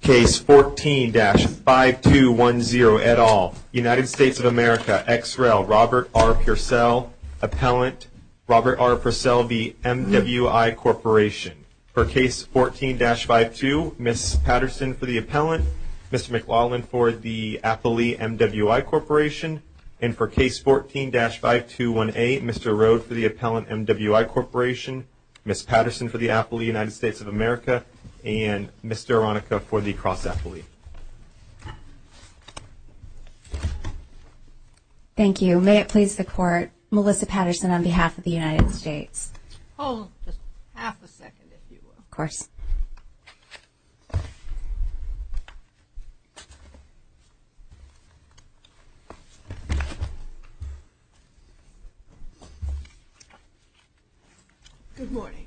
Case 14-5210 et al., United States of America, XREL, Robert R. Purcell, Appellant, Robert R. Purcell v. MWI Corporation. For Case 14-52, Ms. Patterson for the Appellant, Mr. McLaughlin for the Appellee MWI Corporation. And for Case 14-521A, Mr. Rhodes for the Appellant MWI Corporation, Ms. Patterson for the Appellee United States of America. And Mr. Aronica for the Cross-Appellee. Thank you. May it please the Court, Melissa Patterson on behalf of the United States. Hold just half a second, if you will. Of course. Good morning.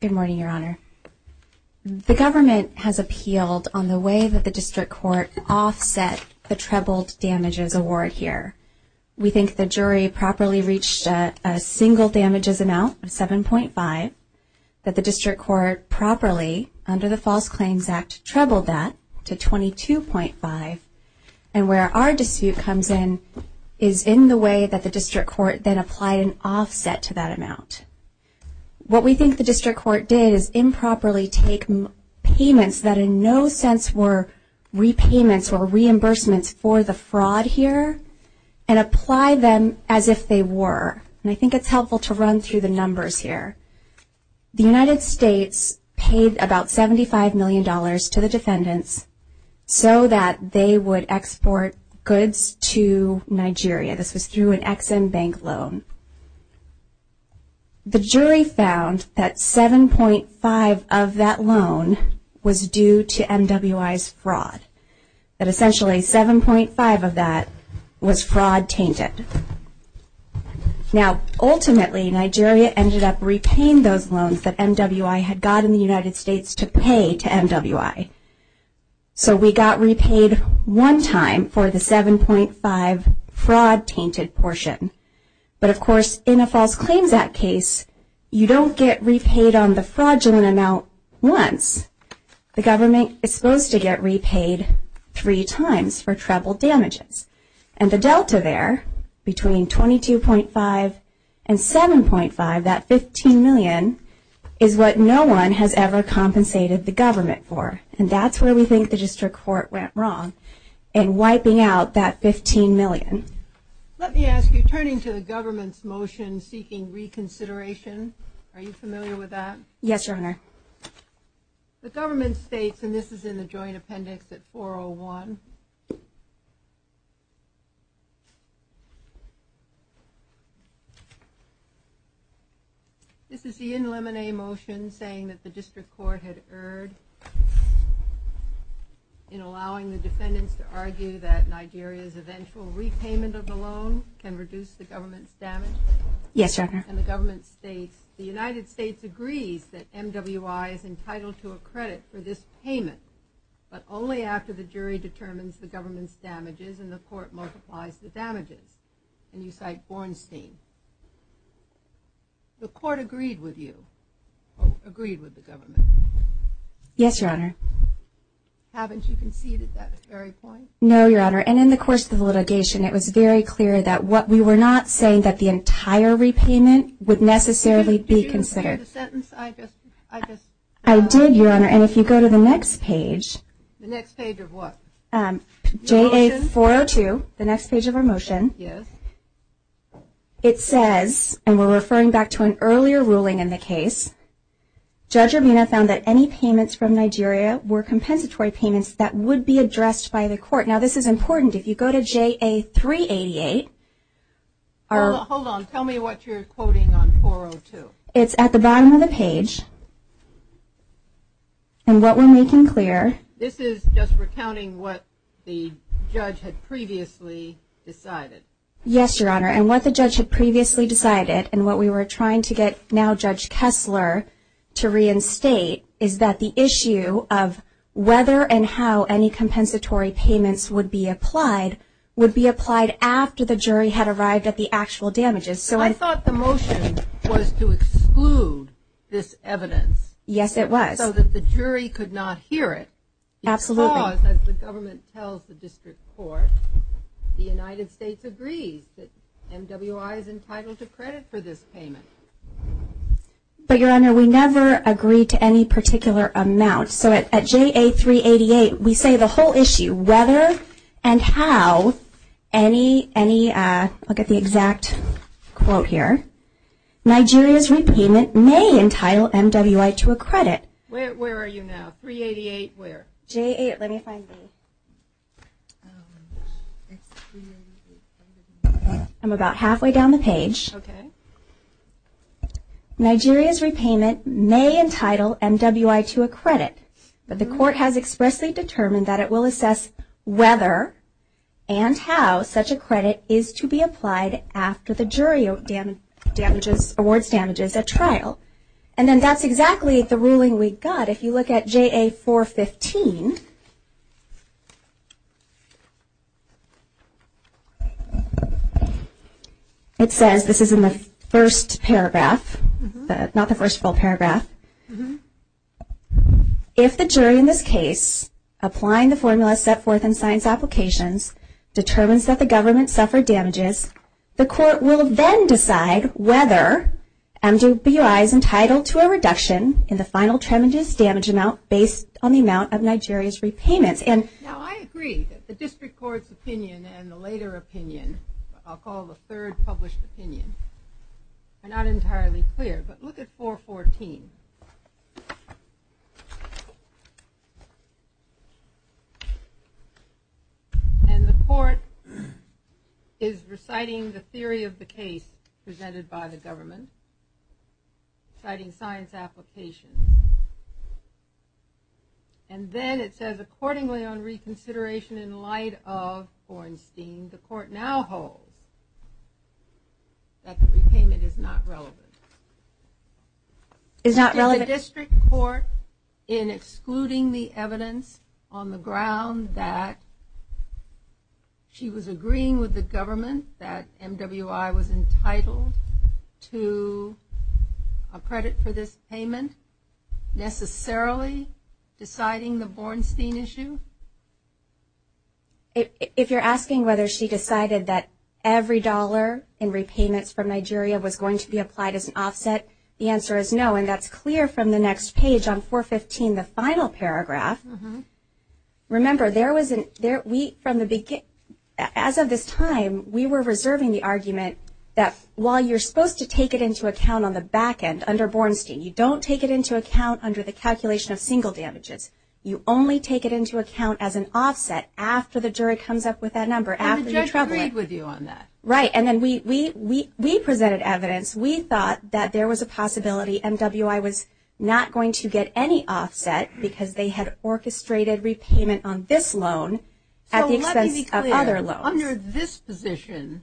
Good morning, Your Honor. The government has appealed on the way that the district court offsets the trebled damages award here. We think the jury properly reached a single damages amount of 7.5. That the district court properly, under the False Claims Act, trebled that to 22.5. And where our dispute comes in, is in the way that the district court then applied an offset to that amount. What we think the district court did is improperly take payments that in no sense were repayments or reimbursements for the fraud here, and apply them as if they were. And I think it's helpful to run through the numbers here. The United States paid about $75 million to the descendants so that they would export goods to Nigeria. This is through an Ex-Im Bank loan. The jury found that 7.5 of that loan was due to MWI's fraud. That essentially 7.5 of that was fraud tainted. Now, ultimately, Nigeria ended up repaying those loans that MWI had gotten the United States to pay to MWI. So we got repaid one time for the 7.5 fraud tainted portion. But of course, in a False Claims Act case, you don't get repaid on the fraudulent amount once. The government is supposed to get repaid three times for trebled damages. And the delta there, between 22.5 and 7.5, that $15 million, is what no one has ever compensated the government for. And that's where we think the district court went wrong in wiping out that $15 million. Let me ask you, turning to the government's motion seeking reconsideration, are you familiar with that? Yes, Your Honor. The government states, and this is in the Joint Appendix at 401. This is the in limine motion saying that the district court had erred in allowing the defendants to argue that Nigeria's eventual repayment of the loan can reduce the government's damage. Yes, Your Honor. And the government states, the United States agrees that MWI is entitled to a credit for this payment. And the court multiplies the damages. And you cite Bornstein. The court agreed with you. Agreed with the government. Yes, Your Honor. Haven't you conceded that at this very point? No, Your Honor. And in the course of litigation, it was very clear that we were not saying that the entire repayment would necessarily be considered. Did you get the sentence? I did, Your Honor. And if you go to the next page. The next page of what? JA-402, the next page of our motion. Yes. It says, and we're referring back to an earlier ruling in the case, Judge Armina found that any payments from Nigeria were compensatory payments that would be addressed by the court. Now, this is important. If you go to JA-388. Hold on. Tell me what you're quoting on 402. It's at the bottom of the page. And what we're making clear. This is just recounting what the judge had previously decided. Yes, Your Honor. And what the judge had previously decided and what we were trying to get now Judge Kessler to reinstate is that the issue of whether and how any compensatory payments would be applied would be applied after the jury had arrived at the actual damages. I thought the motion was to exclude this evidence. Yes, it was. So that the jury could not hear it. Absolutely. Because, as the government tells the district court, the United States agrees that MWI is entitled to credit for this payment. But, Your Honor, we never agreed to any particular amount. So at JA-388, we say the whole issue. Whether and how any, any, I'll get the exact quote here. Nigeria's repayment may entitle MWI to a credit. Where are you now? 388 where? JA, let me find me. I'm about halfway down the page. Okay. Nigeria's repayment may entitle MWI to a credit. But the court has expressly determined that it will assess whether and how such a credit is to be applied after the jury awards damages at trial. And then that's exactly the ruling we got. But if you look at JA-415, it says, this is in the first paragraph. But it's not the first full paragraph. If the jury in this case, applying the formula set forth in science applications, determines that the government suffered damages, the court will then decide whether MWI is entitled to a reduction in the final damages damage amount based on the amount of Nigeria's repayment. Now, I agree that the district court's opinion and the later opinion, I'll call the third published opinion, are not entirely clear. But look at 414. And the court is reciting the theory of the case presented by the government, citing science applications. And then it says, accordingly on reconsideration in light of Ornstein, the court now holds that the repayment is not relevant. Is not relevant. Was the district court in excluding the evidence on the ground that she was agreeing with the government that MWI was entitled to a credit for this payment, necessarily deciding the Ornstein issue? If you're asking whether she decided that every dollar in repayments from Nigeria was going to be applied as an offset, the answer is no. And that's clear from the next page on 415, the final paragraph. Remember, as of this time, we were reserving the argument that while you're supposed to take it into account on the back end under Ornstein, you don't take it into account under the calculation of single damages. You only take it into account as an offset after the jury comes up with that number. And the jury agreed with you on that. Right. And then we presented evidence. We thought that there was a possibility MWI was not going to get any offset because they had orchestrated repayment on this loan at the expense of other loans. So let me be clear. Under this position,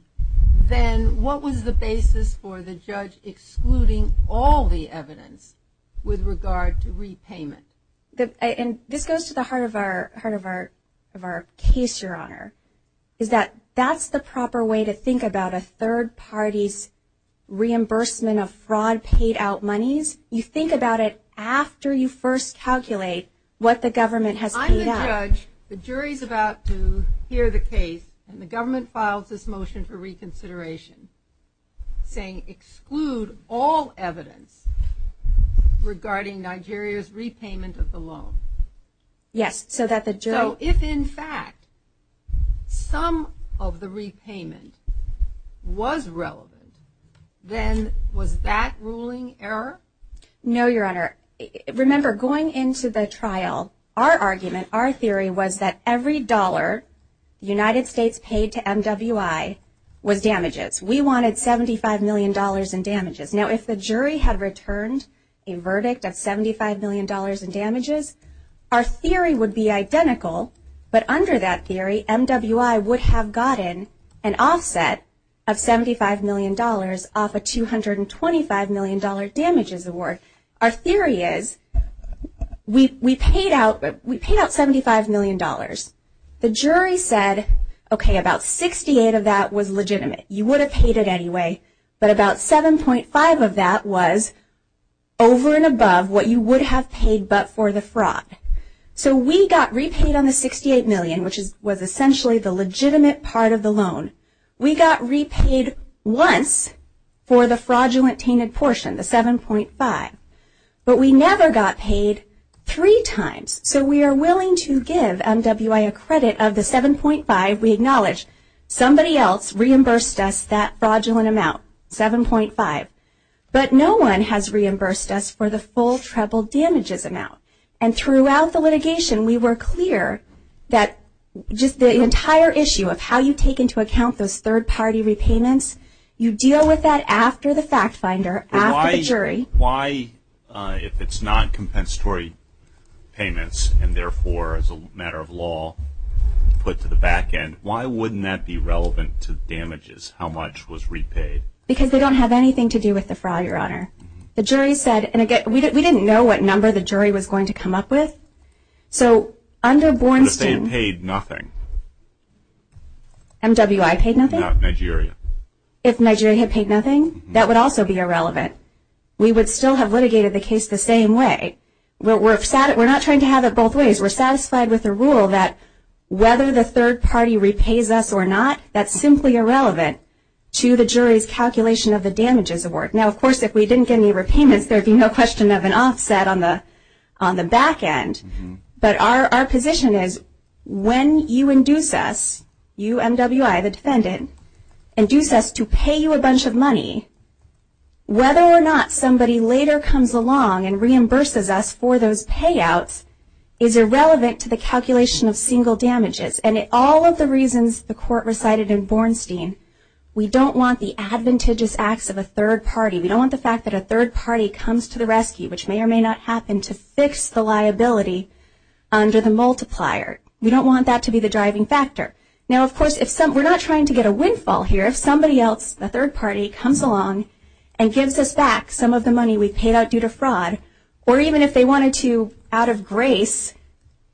then what was the basis for the judge excluding all the evidence with regard to repayment? This goes to the heart of our case, Your Honor, is that that's the proper way to think about a third party's reimbursement of fraud paid out monies. You think about it after you first calculate what the government has paid out. I'm the judge. The jury is about to hear the case, and the government files this motion for reconsideration, saying exclude all evidence regarding Nigeria's repayment of the loan. Yes. So if, in fact, some of the repayment was relevant, then was that ruling error? No, Your Honor. Remember, going into the trial, our argument, our theory was that every dollar United States paid to MWI was damages. We wanted $75 million in damages. Now, if the jury had returned a verdict of $75 million in damages, our theory would be identical, but under that theory, MWI would have gotten an offset of $75 million off a $225 million damages award. Our theory is we paid out $75 million. The jury said, okay, about 68 of that was legitimate. You would have paid it anyway, but about 7.5 of that was over and above what you would have paid but for the fraud. So we got repaid on the 68 million, which was essentially the legitimate part of the loan. We got repaid once for the fraudulent painted portion, the 7.5, but we never got paid three times. So we are willing to give MWI a credit of the 7.5. We acknowledge somebody else reimbursed us that fraudulent amount, 7.5, but no one has reimbursed us for the full treble damages amount. And throughout the litigation, we were clear that just the entire issue of how you take into account those third-party repayments, you deal with that after the fact finder, after the jury. Why, if it's not compensatory payments and, therefore, as a matter of law, put to the back end, why wouldn't that be relevant to damages, how much was repaid? Because we don't have anything to do with the fraud, Your Honor. The jury said, and again, we didn't know what number the jury was going to come up with. So under Born to… If they had paid nothing. MWI paid nothing? No, Nigeria. If Nigeria had paid nothing, that would also be irrelevant. We would still have litigated the case the same way. We're not trying to have it both ways. We're satisfied with the rule that whether the third party repays us or not, that's simply irrelevant to the jury's calculation of the damages award. Now, of course, if we didn't get any repayments, there would be no question of an offset on the back end. But our position is when you induce us, you, MWI, the defendant, and induce us to pay you a bunch of money, whether or not somebody later comes along and reimburses us for those payouts is irrelevant to the calculation of single damages. And all of the reasons the court recited in Bornstein, we don't want the advantageous acts of a third party. We don't want the fact that a third party comes to the rescue, which may or may not happen, to fix the liability under the multiplier. We don't want that to be the driving factor. Now, of course, we're not trying to get a windfall here. If somebody else, a third party, comes along and gives us back some of the money we paid out due to fraud, or even if they wanted to out of grace,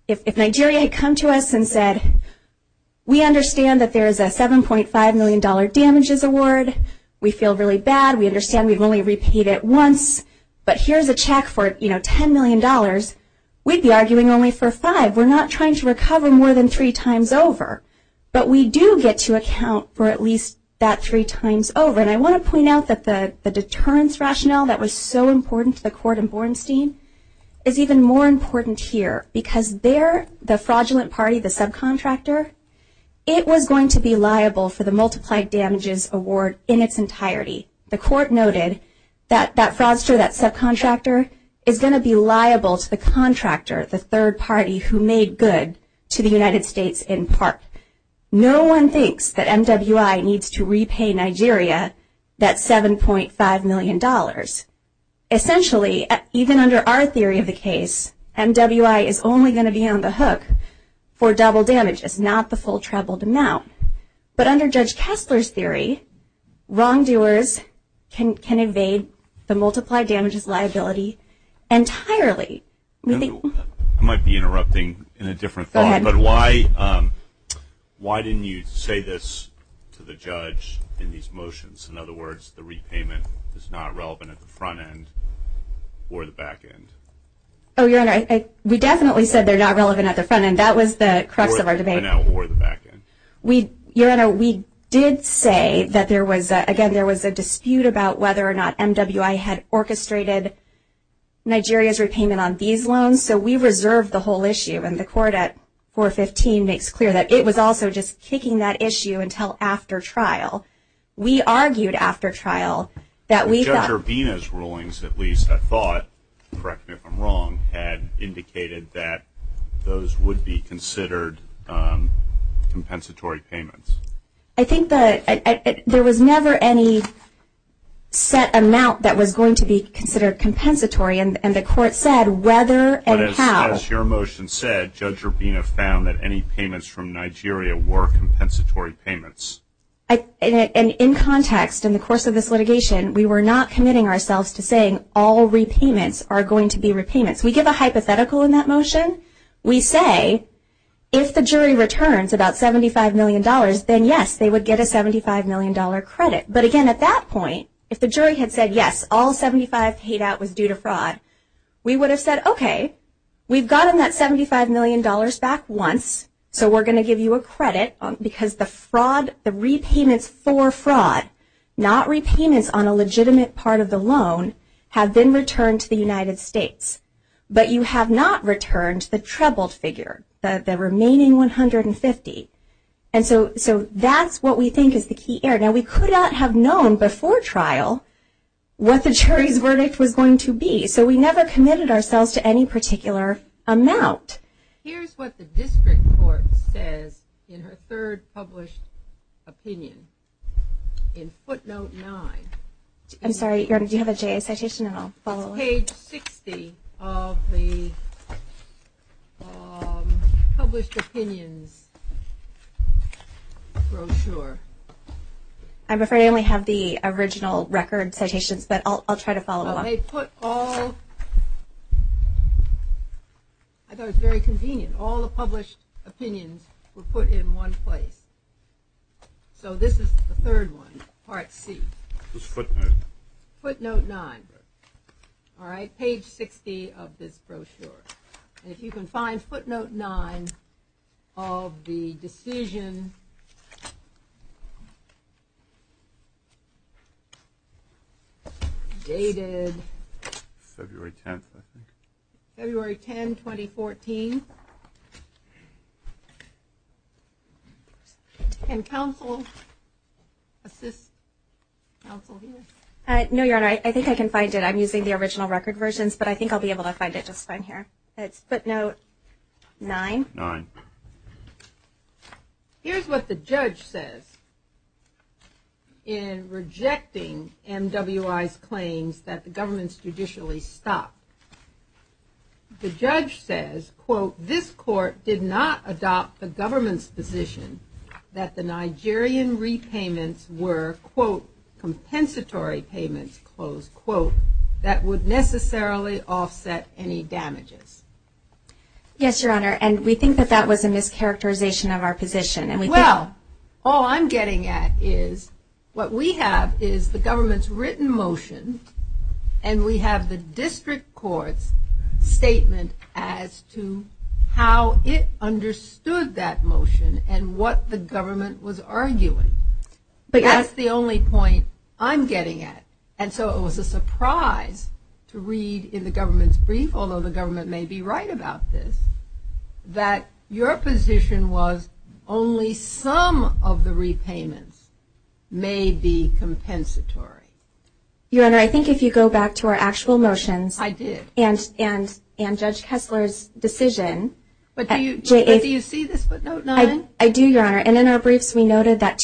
if Nigeria had come to us and said, we understand that there's a $7.5 million damages award, we feel really bad, we understand we've only repeated it once, but here's a check for, you know, $10 million, we'd be arguing only for five. We're not trying to recover more than three times over, but we do get to account for at least that three times over. And I want to point out that the deterrence rationale that was so important to the court in Bornstein is even more important here because there, the fraudulent party, the subcontractor, it was going to be liable for the multiplied damages award in its entirety. The court noted that that fraudster, that subcontractor, is going to be liable to the contractor, the third party who made good to the United States in part. No one thinks that MWI needs to repay Nigeria that $7.5 million. Essentially, even under our theory of the case, MWI is only going to be on the hook for double damage. It's not the full troubled amount. But under Judge Kasper's theory, wrongdoers can evade the multiplied damages liability entirely. I might be interrupting in a different thought, but why didn't you say this to the judge in these motions? In other words, the repayment is not relevant at the front end or the back end. Oh, Your Honor, we definitely said they're not relevant at the front end. That was the crux of our debate. Or the back end. Your Honor, we did say that there was, again, there was a dispute about whether or not MWI had orchestrated Nigeria's repayment on these loans. So we reserved the whole issue. And the court at 415 makes clear that it was also just kicking that issue until after trial. We argued after trial that we thought – Judge Urvina's rulings, at least, I thought, correct me if I'm wrong, had indicated that those would be considered compensatory payments. I think that there was never any set amount that was going to be considered compensatory. And the court said whether and how – But as your motion said, Judge Urvina found that any payments from Nigeria were compensatory payments. And in context, in the course of this litigation, we were not committing ourselves to saying all repayments are going to be repayments. We give a hypothetical in that motion. We say if the jury returns about $75 million, then, yes, they would get a $75 million credit. But, again, at that point, if the jury had said, yes, all 75 paid out was due to fraud, we would have said, okay, we've gotten that $75 million back once, so we're going to give you a credit because the fraud, the repayments for fraud, not repayments on a legitimate part of the loan, have been returned to the United States. But you have not returned the trebled figure, the remaining $150. And so that's what we think is the key error. Now, we could not have known before trial what the jury's verdict was going to be, so we never committed ourselves to any particular amount. Here's what the district court says in her third published opinion. In footnote 9. I'm sorry, Ericka, you have a citation and I'll follow up. Page 60 of the published opinion brochure. I'm afraid I only have the original record citations, but I'll try to follow up. They put all, I thought it was very convenient, all the published opinions were put in one place. So this is the third one, part C. This is footnote. Footnote 9. All right, page 60 of this brochure. If you can find footnote 9 of the decision dated February 10, 2014. Can counsel assist counsel here? No, Your Honor, I think I can find it. I'm using the original record versions, but I think I'll be able to find it just fine here. Footnote 9. Nine. Here's what the judge says in rejecting MWI's claims that the government's judicially stopped. The judge says, quote, this court did not adopt the government's position that the Nigerian repayments were, quote, compensatory payments, quote, that would necessarily offset any damages. Yes, Your Honor, and we think that that was a mischaracterization of our position. Well, all I'm getting at is what we have is the government's written motion and we have the district court's statement as to how it understood that motion and what the government was arguing. That's the only point I'm getting at. And so it was a surprise to read in the government's brief, although the government may be right about this, that your position was only some of the repayments may be compensatory. Your Honor, I think if you go back to our actual motions. I do. And Judge Kessler's decision. But do you see the footnote 9? I do, Your Honor, and in our brief we noted that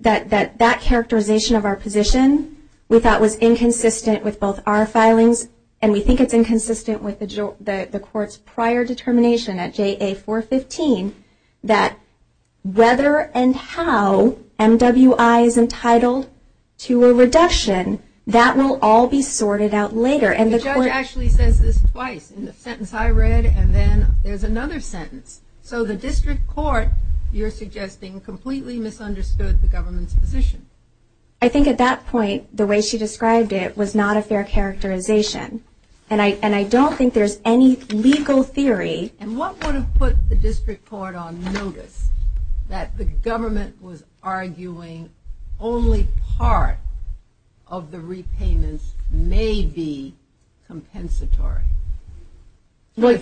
that characterization of our position, we thought was inconsistent with both our filings and we think it's inconsistent with the court's prior determination at JA 415 that whether and how MWI is entitled to a reduction, that will all be sorted out later. The judge actually says this twice. In the sentence I read and then there's another sentence. So the district court, you're suggesting, completely misunderstood the government's position. I think at that point the way she described it was not a fair characterization. And I don't think there's any legal theory. And what would have put the district court on notice that the government was arguing only part of the repayments may be compensatory?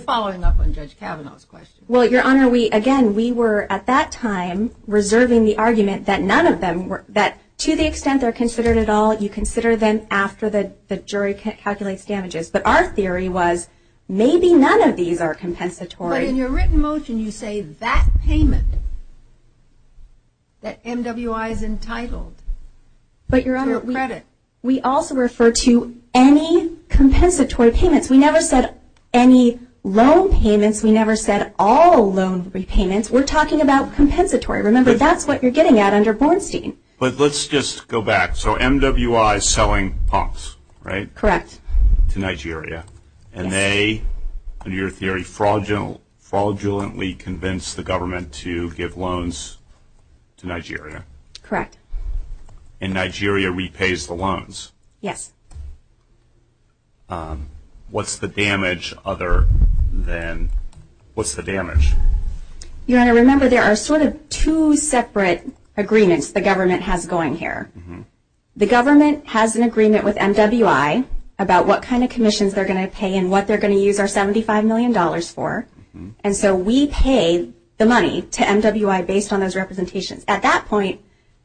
Following up on Judge Kavanaugh's question. Well, Your Honor, again, we were at that time reserving the argument that none of them, that to the extent they're considered at all, you consider them after the jury calculates damages. But our theory was maybe none of these are compensatory. But in your written motion you say that payment that MWI is entitled for credit. We also refer to any compensatory payments. We never said any loan payments. We never said all loan repayments. We're talking about compensatory. Remember, that's what you're getting at under Bornstein. But let's just go back. So MWI is selling pumps, right? Correct. To Nigeria. And they, in your theory, fraudulently convinced the government to give loans to Nigeria. Correct. And Nigeria repays the loans. Yes. What's the damage other than what's the damage? Your Honor, remember there are sort of two separate agreements the government has going here. The government has an agreement with MWI about what kind of commissions they're going to pay and what they're going to use our $75 million for. And so we pay the money to MWI based on those representations. At that point,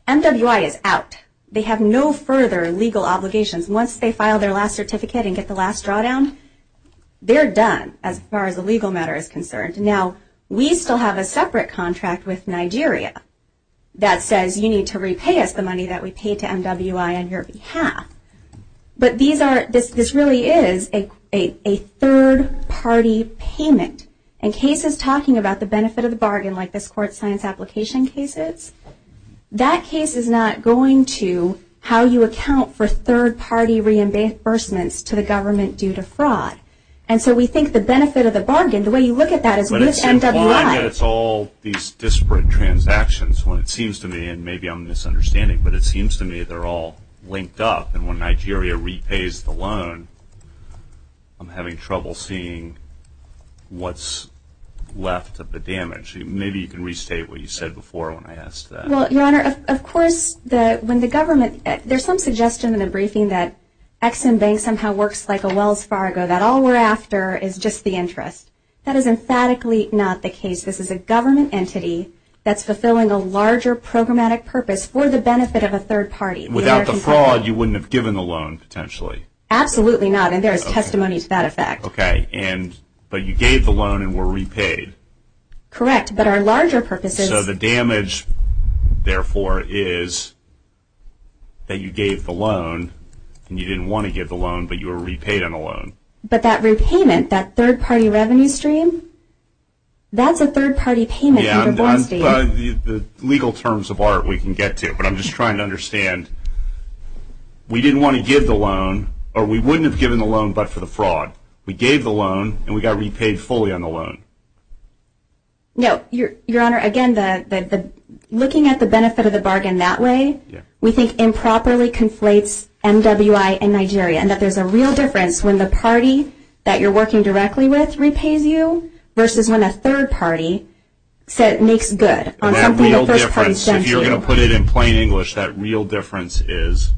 MWI is out. They have no further legal obligations. Once they file their last certificate and get the last drawdown, they're done as far as the legal matter is concerned. Now, we still have a separate contract with Nigeria that says you need to repay us the money that we paid to MWI on your behalf. But these are, this really is a third-party payment. In cases talking about the benefit of the bargain, like this court science application cases, that case is not going to how you account for third-party reimbursements to the government due to fraud. And so we think the benefit of the bargain, the way you look at that is with MWI. But it's all these disparate transactions. Well, it seems to me, and maybe I'm misunderstanding, but it seems to me they're all linked up. And when Nigeria repays the loan, I'm having trouble seeing what's left of the damage. Maybe you can restate what you said before when I asked that. Well, Your Honor, of course, when the government, there's some suggestion in the briefing that Ex-Im Bank somehow works like a Wells Fargo, that all we're after is just the interest. That is emphatically not the case. This is a government entity that's fulfilling a larger programmatic purpose for the benefit of a third party. Without the fraud, you wouldn't have given the loan, potentially. Absolutely not. And there is testimony to that fact. Okay. But you gave the loan and were repaid. Correct. So the damage, therefore, is that you gave the loan and you didn't want to give the loan, but you were repaid on the loan. But that repayment, that third party revenue stream, that's a third party payment. Yeah, the legal terms of art we can get to, but I'm just trying to understand. We didn't want to give the loan, or we wouldn't have given the loan but for the fraud. We gave the loan and we got repaid fully on the loan. No. Your Honor, again, looking at the benefit of the bargain that way, we think improperly conflates MWI and Nigeria, and that there's a real difference when the party that you're working directly with repays you versus when a third party makes good. That real difference, if you're going to put it in plain English, that real difference is?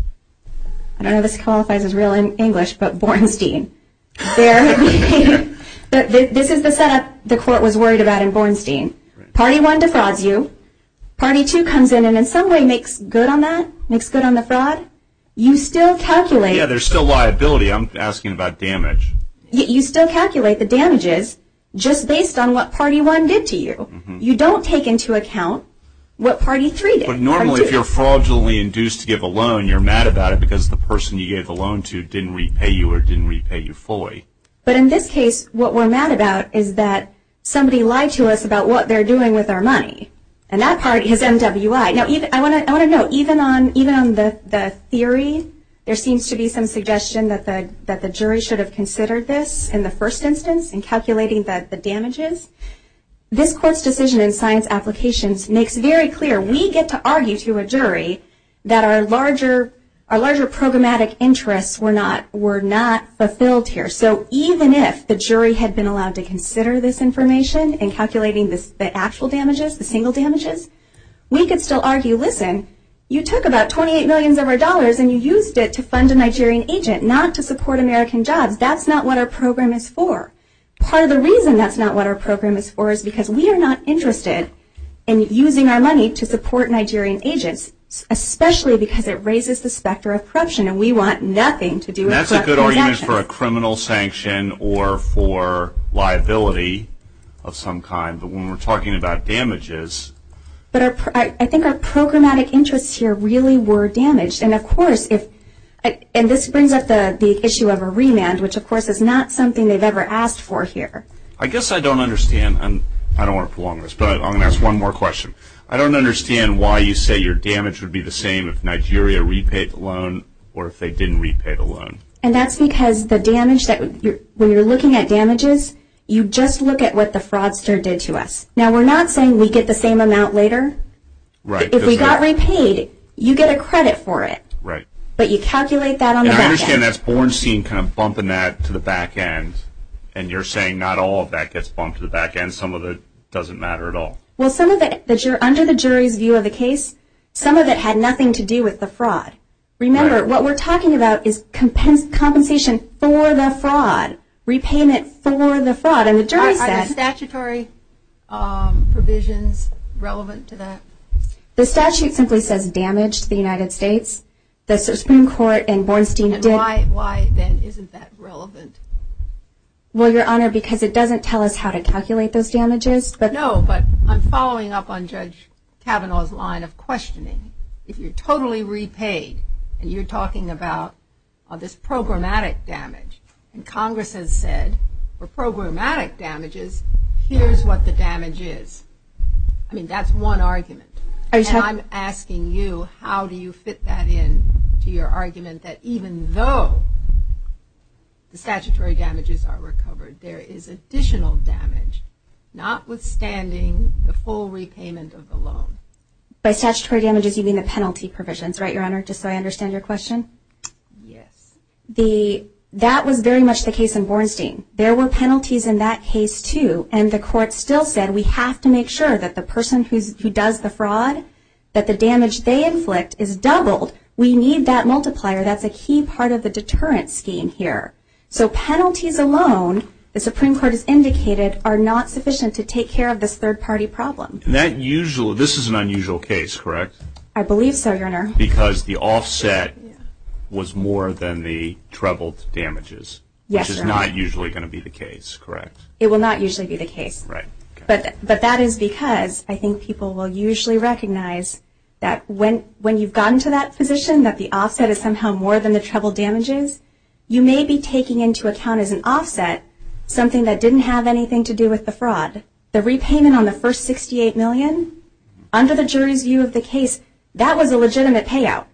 I don't know if this qualifies as real English, but Bornstein. This is the setup the court was worried about in Bornstein. Party one defrauds you. Party two comes in and in some way makes good on that, makes good on the fraud. You still calculate. Yeah, there's still liability. I'm asking about damage. You still calculate the damages just based on what party one did to you. You don't take into account what party three did. But normally, if you're fraudulently induced to give a loan, you're mad about it because the person you gave a loan to didn't repay you or didn't repay you fully. But in this case, what we're mad about is that somebody lied to us about what they're doing with our money, and that part is MWI. Now, I want to note, even on the theory, there seems to be some suggestion that the jury should have considered this in the first instance in calculating the damages. This court's decision in science applications makes very clear. We get to argue to a jury that our larger programmatic interests were not fulfilled here. So even if the jury had been allowed to consider this information in calculating the actual damages, the single damages, we could still argue, listen, you took about $28 million of our dollars and you used it to fund a Nigerian agent, not to support American jobs. That's not what our program is for. Part of the reason that's not what our program is for is because we are not interested in using our money to support Nigerian agents, especially because it raises the specter of corruption, and we want nothing to do with corruption. And that's a good argument for a criminal sanction or for liability of some kind. But when we're talking about damages. But I think our programmatic interests here really were damaged. And this brings up the issue of a remand, which, of course, is not something they've ever asked for here. I guess I don't understand, and I don't want to prolong this, but I'm going to ask one more question. I don't understand why you say your damage would be the same if Nigeria repaid the loan or if they didn't repay the loan. And that's because the damage, when you're looking at damages, you just look at what the fraudster did to us. Now, we're not saying we get the same amount later. If we got repaid, you get a credit for it, but you calculate that on the back end. I understand that's Bornstein kind of bumping that to the back end, and you're saying not all of that gets bumped to the back end. Some of it doesn't matter at all. Well, some of it, under the jury's view of the case, some of it had nothing to do with the fraud. Remember, what we're talking about is compensation for the fraud, repayment for the fraud. Are the statutory provisions relevant to that? The statute simply says damaged the United States. The Supreme Court and Bornstein did. And why, then, isn't that relevant? Well, Your Honor, because it doesn't tell us how to calculate those damages. No, but I'm following up on Judge Kavanaugh's line of questioning. If you're totally repaid and you're talking about this programmatic damage, and Congress has said for programmatic damages, here's what the damage is, I mean, that's one argument. And I'm asking you, how do you fit that in to your argument that even though the statutory damages are recovered, there is additional damage, notwithstanding the full repayment of the loan? By statutory damages, you mean the penalty provisions, right, Your Honor, just so I understand your question? Yes. That was very much the case in Bornstein. There were penalties in that case, too, and the court still said we have to make sure that the person who does the fraud, that the damage they inflict is doubled. We need that multiplier. That's a key part of the deterrent scheme here. So penalties alone, the Supreme Court has indicated, are not sufficient to take care of this third-party problem. I believe so, Your Honor. Because the offset was more than the troubled damages, which is not usually going to be the case, correct? It will not usually be the case. Right. But that is because I think people will usually recognize that when you've gotten to that position, that the offset is somehow more than the troubled damages, you may be taking into account as an offset something that didn't have anything to do with the fraud. And the repayment on the first $68 million, under the jury view of the case, that was a legitimate payout.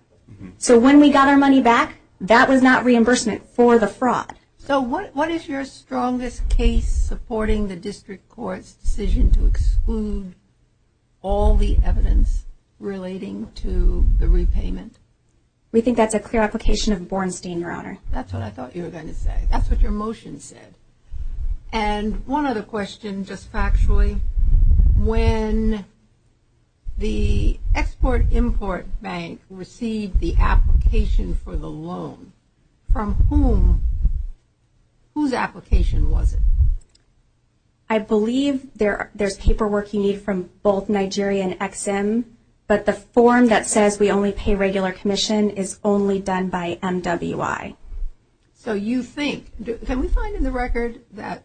So when we got our money back, that was not reimbursement for the fraud. So what is your strongest case supporting the district court's decision to exclude all the evidence relating to the repayment? We think that the clear application of Bornstein, Your Honor. That's what I thought you were going to say. That's what your motion said. And one other question, just factually. When the Export-Import Bank received the application for the loan, from whom, whose application was it? I believe there's paperwork you need from both Nigeria and EXIM. But the form that says we only pay regular commission is only done by MWI. So you think, can we find in the record that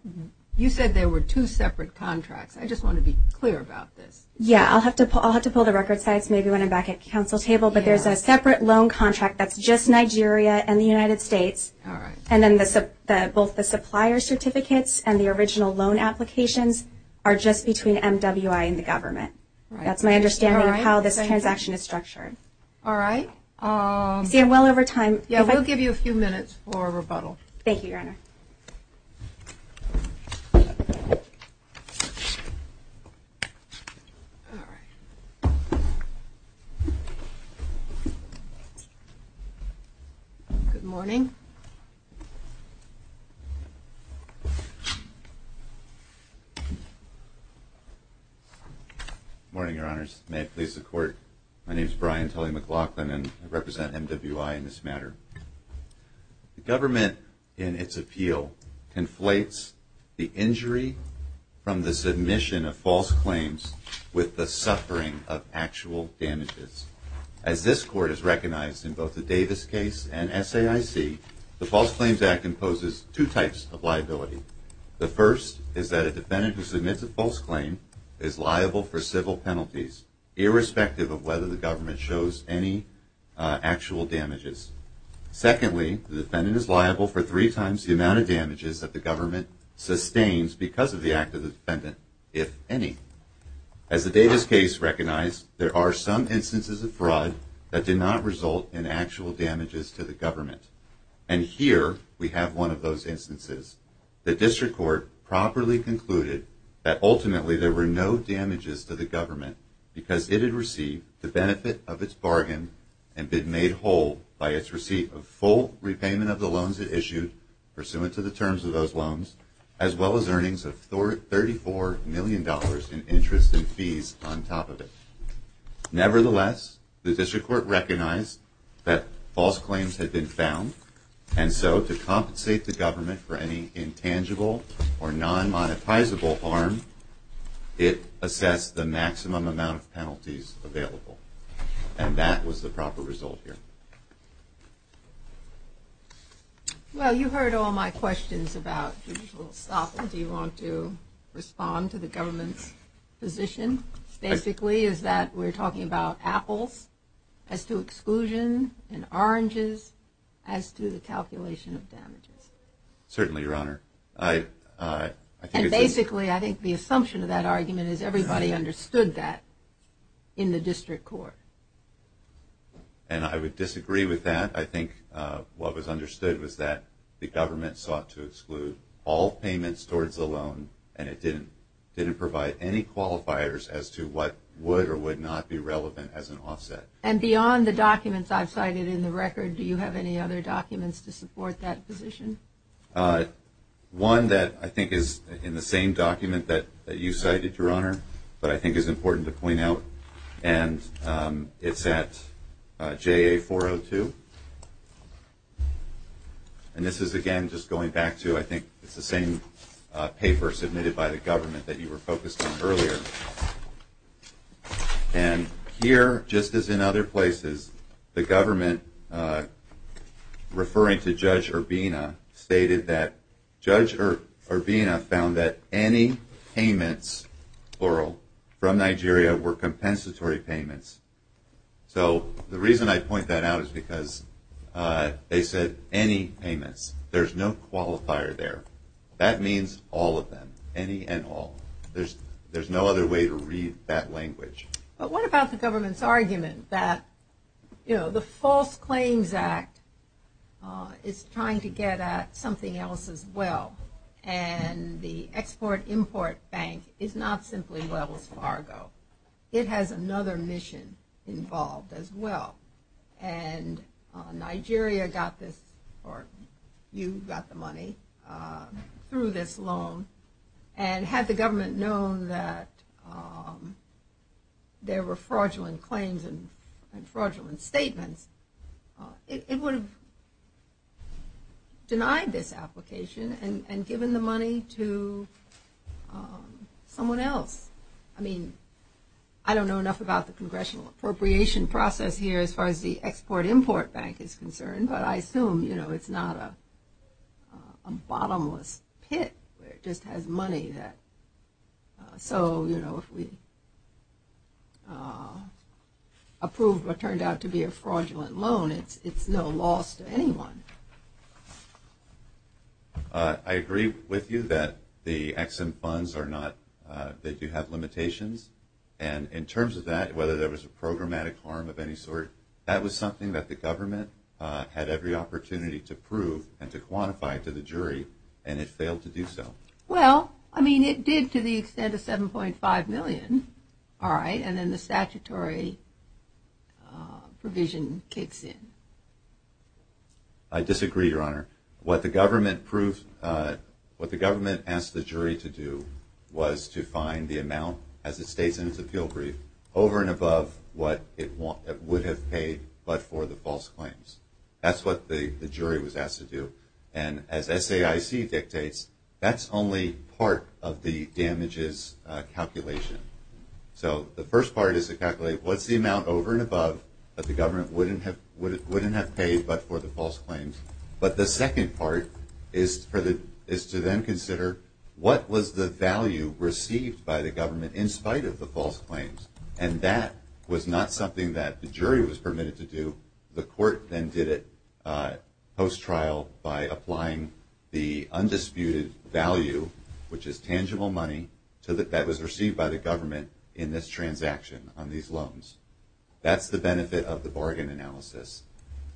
you said there were two separate contracts? I just want to be clear about this. Yeah. I'll have to pull the record sites maybe when I'm back at the council table. But there's a separate loan contract that's just Nigeria and the United States. All right. And then both the supplier certificates and the original loan applications are just between MWI and the government. That's my understanding of how the transaction is structured. All right. We're well over time. Yeah, we'll give you a few minutes for rebuttal. Thank you, Your Honor. Good morning. Good morning, Your Honors. May it please the Court. My name is Brian Tully McLaughlin, and I represent MWI in this matter. The government, in its appeal, conflates the injury from the submission of false claims with the suffering of actual damages. As this Court has recognized in both the Davis case and SAIC, the False Claims Act imposes two types of liability. The first is that a defendant who submits a false claim is liable for civil penalties, irrespective of whether the government shows any actual damages. Secondly, the defendant is liable for three times the amount of damages that the government sustains because of the act of the defendant, if any. As the Davis case recognized, there are some instances of fraud that did not result in actual damages to the government. And here we have one of those instances. The District Court properly concluded that ultimately there were no damages to the government because it had received the benefit of its bargain and had been made whole by its receipt of full repayment of the loans it issued, pursuant to the terms of those loans, as well as earnings of $34 million in interest and fees on top of it. Nevertheless, the District Court recognized that false claims had been found, and so to compensate the government for any intangible or non-monetizable harm, it assessed the maximum amount of penalties available. And that was the proper result here. Well, you heard all my questions about the usual stuff. If you want to respond to the government's position, basically is that we're talking about apples as to exclusions and oranges as to the calculation of damages. Certainly, Your Honor. And basically, I think the assumption of that argument is everybody understood that in the District Court. And I would disagree with that. I think what was understood was that the government sought to exclude all payments towards the loan, and it didn't provide any qualifiers as to what would or would not be relevant as an offset. And beyond the documents I've cited in the record, do you have any other documents to support that position? One that I think is in the same document that you cited, Your Honor, that I think is important to point out, and it's at JA402. And this is, again, just going back to, I think, the same paper submitted by the government that you were focused on earlier. And here, just as in other places, the government, referring to Judge Urbina, stated that Judge Urbina found that any payments, plural, from Nigeria were compensatory payments. So the reason I point that out is because they said any payments. There's no qualifier there. That means all of them, any and all. There's no other way to read that language. But what about the government's argument that, you know, the False Claims Act is trying to get at something else as well, and the Export-Import Bank is not simply leveled cargo. It has another mission involved as well. And Nigeria got this, or you got the money through this loan, and had the government known that there were fraudulent claims and fraudulent statements, it would have denied this application and given the money to someone else. I mean, I don't know enough about the congressional appropriation process here as far as the Export-Import Bank is concerned, but I assume, you know, it's not a bottomless pit where it just has money that. So, you know, if we approve what turned out to be a fraudulent loan, it's no loss to anyone. I agree with you that the Ex-Im funds are not, they do have limitations. And in terms of that, whether there was a programmatic harm of any sort, that was something that the government had every opportunity to prove and to quantify to the jury, and it failed to do so. Well, I mean, it did to the extent of $7.5 million, all right, and then the statutory provision kicks in. I disagree, Your Honor. What the government asked the jury to do was to find the amount, as it states in its appeal brief, over and above what it would have paid, but for the false claims. That's what the jury was asked to do. And as SAIC dictates, that's only part of the damages calculation. So the first part is to calculate what's the amount over and above that the government wouldn't have paid but for the false claims. But the second part is to then consider what was the value received by the government in spite of the false claims. And that was not something that the jury was permitted to do. The court then did it post-trial by applying the undisputed value, which is tangible money, so that that was received by the government in this transaction on these loans. That's the benefit of the bargain analysis.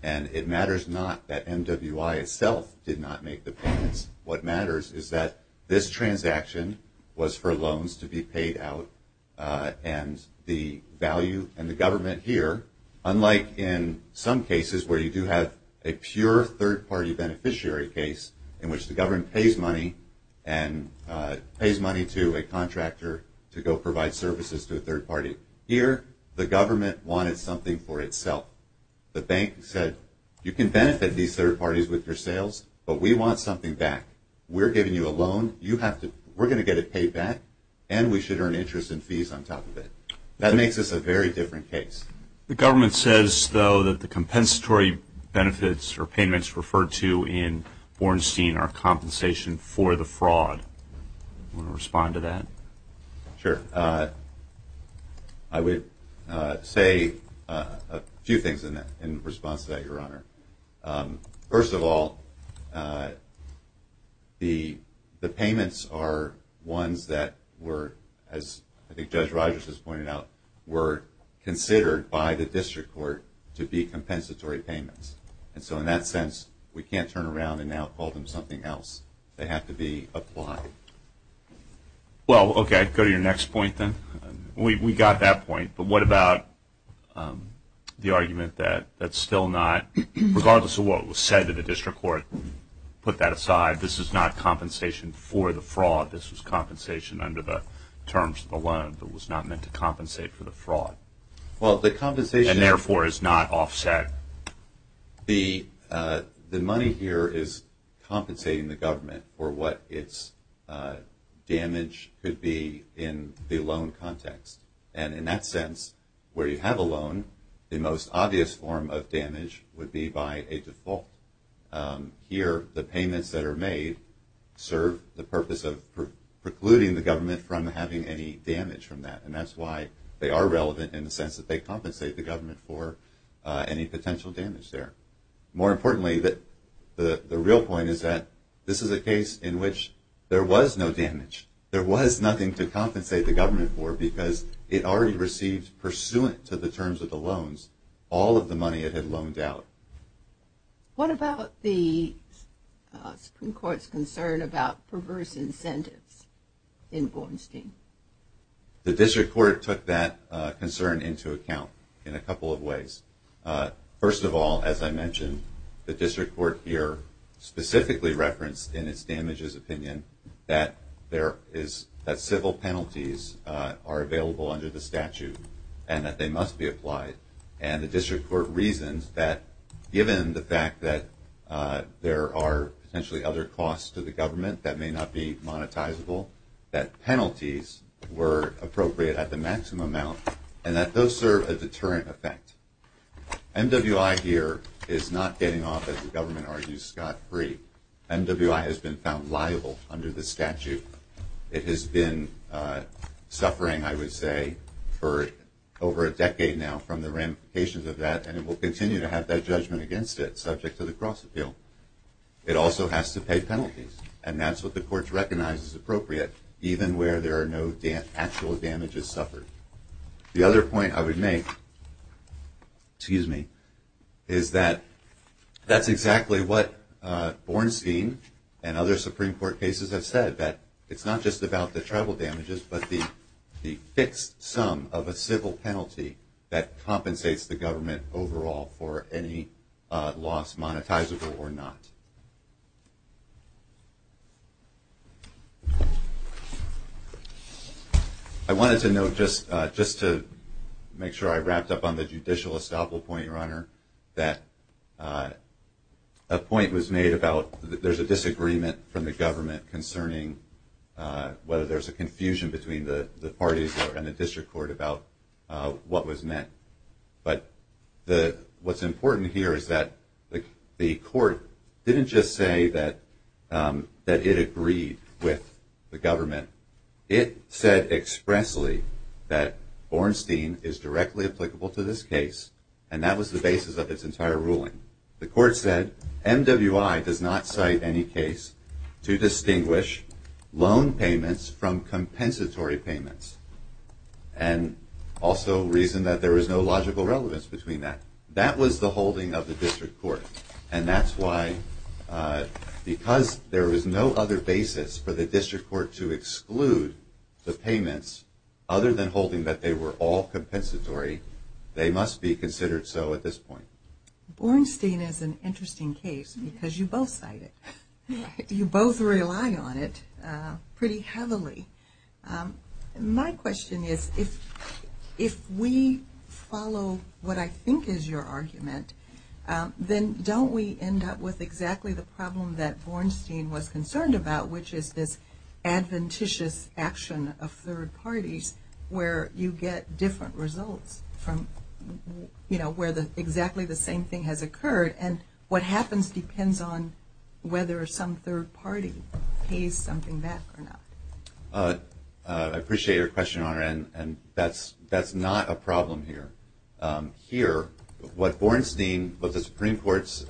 And it matters not that MWI itself did not make the payments. What matters is that this transaction was for loans to be paid out and the value and the government here, unlike in some cases where you do have a pure third-party beneficiary case in which the government pays money and pays money to a contractor to go provide services to a third party. Here, the government wanted something for itself. The bank said, you can benefit these third parties with your sales, but we want something back. We're giving you a loan. We're going to get it paid back, and we should earn interest and fees on top of it. That makes this a very different case. The government says, though, that the compensatory benefits or payments referred to in Bornstein are compensation for the fraud. Do you want to respond to that? Sure. I would say a few things in response to that, Your Honor. First of all, the payments are ones that were, as I think Judge Rogers just pointed out, were considered by the district court to be compensatory payments. And so in that sense, we can't turn around and now call them something else. They have to be applied. Well, okay. Go to your next point, then. We got that point, but what about the argument that that's still not, regardless of what was said to the district court, put that aside. This is not compensation for the fraud. This is compensation under the terms of the loan that was not meant to compensate for the fraud. And, therefore, is not offset. The money here is compensating the government for what its damage could be in the loan context. And in that sense, where you have a loan, the most obvious form of damage would be by a default. Here, the payments that are made serve the purpose of precluding the government from having any damage from that, and that's why they are relevant in the sense that they compensate the government for any potential damage there. More importantly, the real point is that this is a case in which there was no damage. There was nothing to compensate the government for because it already received, pursuant to the terms of the loans, all of the money it had loaned out. What about the Supreme Court's concern about perverse incentives in Bornstein? The District Court took that concern into account in a couple of ways. First of all, as I mentioned, the District Court here specifically referenced, in its damages opinion, that civil penalties are available under the statute and that they must be applied. And the District Court reasoned that, given the fact that there are potentially other costs to the government that may not be monetizable, that penalties were appropriate at the maximum amount and that those serve a deterrent effect. MWI here is not getting off, as the government argues, scot-free. MWI has been found liable under the statute. It has been suffering, I would say, for over a decade now from the ramifications of that, and it will continue to have that judgment against it, subject to the cross-appeal. It also has to pay penalties, and that's what the courts recognize is appropriate, even where there are no actual damages suffered. The other point I would make is that that's exactly what Bornstein and other Supreme Court cases have said, that it's not just about the travel damages but the fixed sum of a civil penalty that compensates the government overall for any loss, monetizable or not. I wanted to note, just to make sure I wrapped up on the judicial estoppel point, Your Honor, that a point was made about there's a disagreement from the government concerning whether there's a confusion between the parties and the District Court about what was met. But what's important here is that the court didn't just say that it agreed with the government. It said expressly that Bornstein is directly applicable to this case, and that was the basis of this entire ruling. The court said MWI does not cite any case to distinguish loan payments from compensatory payments. And also reason that there is no logical relevance between that. That was the holding of the District Court, and that's why because there is no other basis for the District Court to exclude the payments other than holding that they were all compensatory, they must be considered so at this point. Bornstein is an interesting case because you both cite it. You both rely on it pretty heavily. My question is if we follow what I think is your argument, then don't we end up with exactly the problem that Bornstein was concerned about, which is this adventitious action of third parties where you get different results from where exactly the same thing has occurred, and what happens depends on whether some third party pays something back or not. I appreciate your question, Honor, and that's not a problem here. Here, what Bornstein, what the Supreme Court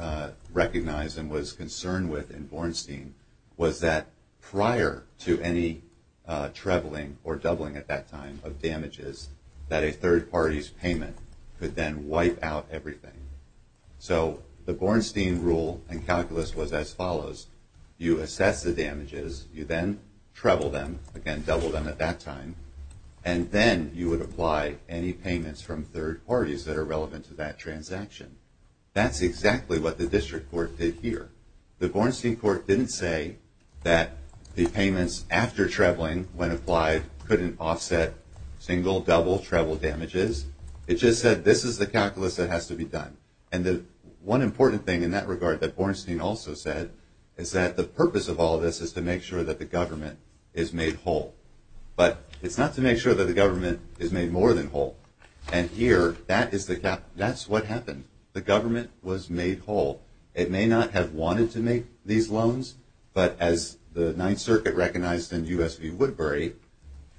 recognized and was concerned with in Bornstein was that prior to any traveling or doubling at that time of damages, that a third party's payment could then wipe out everything. So the Bornstein rule and calculus was as follows. You assess the damages, you then travel them, again, double them at that time, and then you would apply any payments from third parties that are relevant to that transaction. That's exactly what the District Court did here. The Bornstein Court didn't say that the payments after traveling, when applied, couldn't offset single, double, travel damages. It just said this is the calculus that has to be done. And one important thing in that regard that Bornstein also said is that the purpose of all this is to make sure that the government is made whole. But it's not to make sure that the government is made more than whole. And here, that's what happened. The government was made whole. It may not have wanted to make these loans, but as the Ninth Circuit recognized in U.S. v. Woodbury,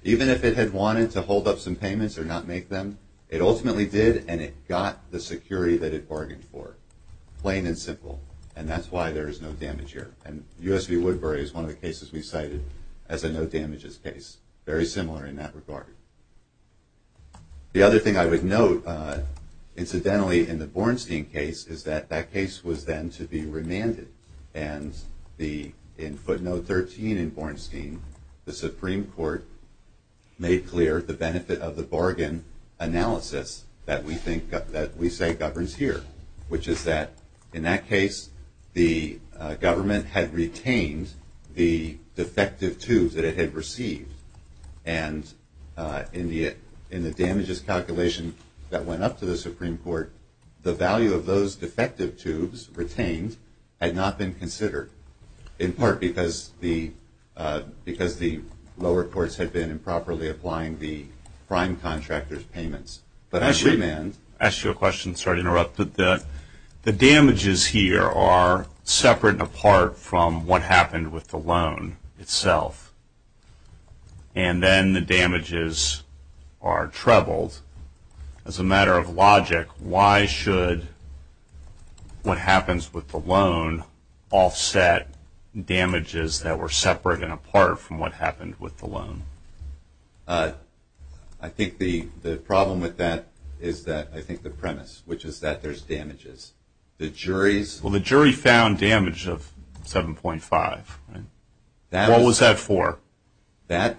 even if it had wanted to hold up some payments or not make them, it ultimately did and it got the security that it bargained for, plain and simple. And that's why there is no damage here. And U.S. v. Woodbury is one of the cases we cited as a no damages case. Very similar in that regard. The other thing I would note, incidentally, in the Bornstein case, is that that case was then to be remanded. And in footnote 13 in Bornstein, the Supreme Court made clear the benefit of the bargain analysis that we say governs here, which is that in that case, the government had retained the defective tubes that it had received. And in the damages calculation that went up to the Supreme Court, the value of those defective tubes retained had not been considered, in part because the lower courts had been improperly applying the prime contractor's payments. I should ask you a question. Sorry to interrupt. The damages here are separate and apart from what happened with the loan itself. And then the damages are trebled. As a matter of logic, why should what happens with the loan offset damages that were separate and apart from what happened with the loan? I think the problem with that is that I think the premise, which is that there's damages. The jury's- Well, the jury found damage of 7.5. What was that for? What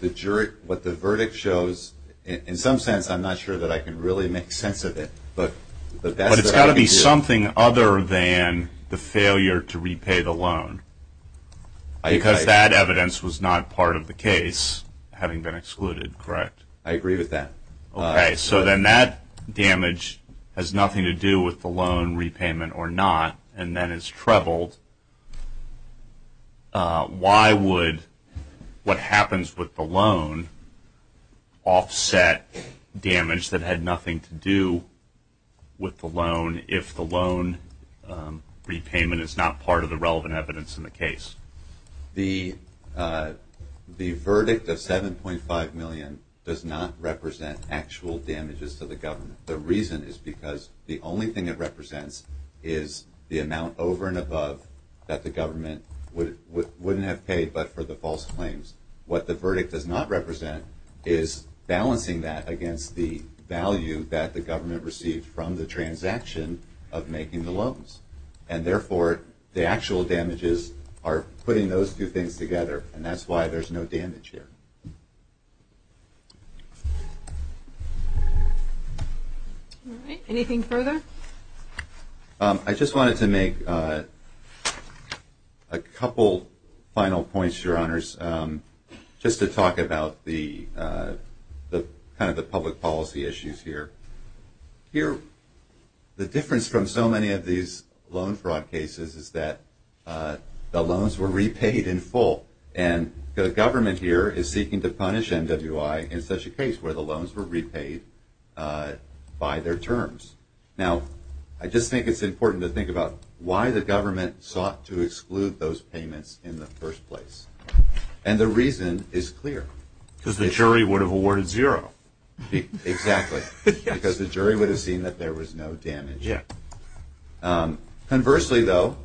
the verdict shows, in some sense, I'm not sure that I can really make sense of it. But it's got to be something other than the failure to repay the loan. Because that evidence was not part of the case, having been excluded, correct? I agree with that. Okay. So then that damage has nothing to do with the loan repayment or not, and then it's trebled. Why would what happens with the loan offset damage that had nothing to do with the loan if the loan repayment is not part of the relevant evidence in the case? The verdict of 7.5 million does not represent actual damages to the government. The reason is because the only thing it represents is the amount over and above that the government wouldn't have paid but for the false claims. What the verdict does not represent is balancing that against the value that the government received from the transaction of making the loans. And therefore, the actual damages are putting those two things together, and that's why there's no damage here. All right. Anything further? I just wanted to make a couple final points, Your Honors, just to talk about kind of the public policy issues here. Here, the difference from so many of these loan fraud cases is that the loans were repaid in full, and the government here is seeking to punish MWI in such a case where the loans were repaid by their terms. Now, I just think it's important to think about why the government sought to exclude those payments in the first place, and the reason is clear. Because the jury would have awarded zero. Exactly, because the jury would have seen that there was no damage. Conversely, though,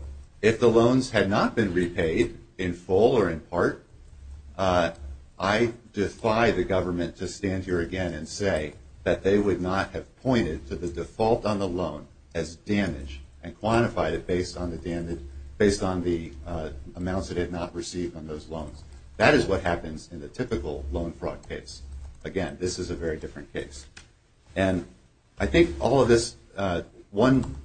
if the loans had not been repaid in full or in part, I defy the government to stand here again and say that they would not have pointed to the default on the loan as damage and quantified it based on the amounts it had not received on those loans. That is what happens in the typical loan fraud case. Again, this is a very different case. I think one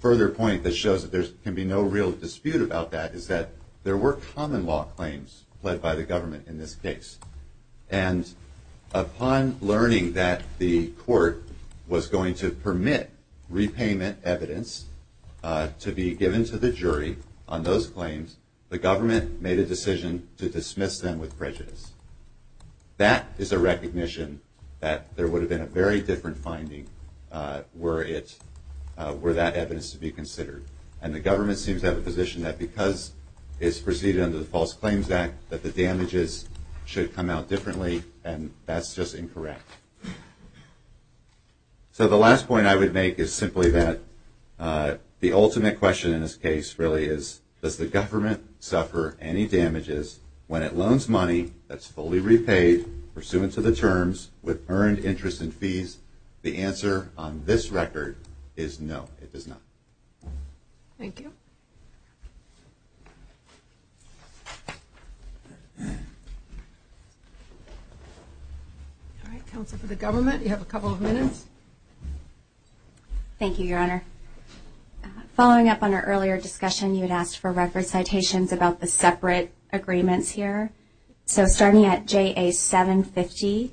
further point that shows that there can be no real dispute about that is that there were common law claims led by the government in this case, and upon learning that the court was going to permit repayment evidence to be given to the jury on those claims, the government made a decision to dismiss them with prejudice. That is a recognition that there would have been a very different finding were that evidence to be considered, and the government seems to have a position that because it's preceded under the False Claims Act that the damages should come out differently, and that's just incorrect. So the last point I would make is simply that the ultimate question in this case really is, does the government suffer any damages when it loans money that's fully repaid pursuant to the terms with earned interest and fees? The answer on this record is no, it does not. Thank you. Counsel for the government, you have a couple of minutes. Thank you, Your Honor. Following up on our earlier discussion, you had asked for record citations about the separate agreements here. So starting at JA750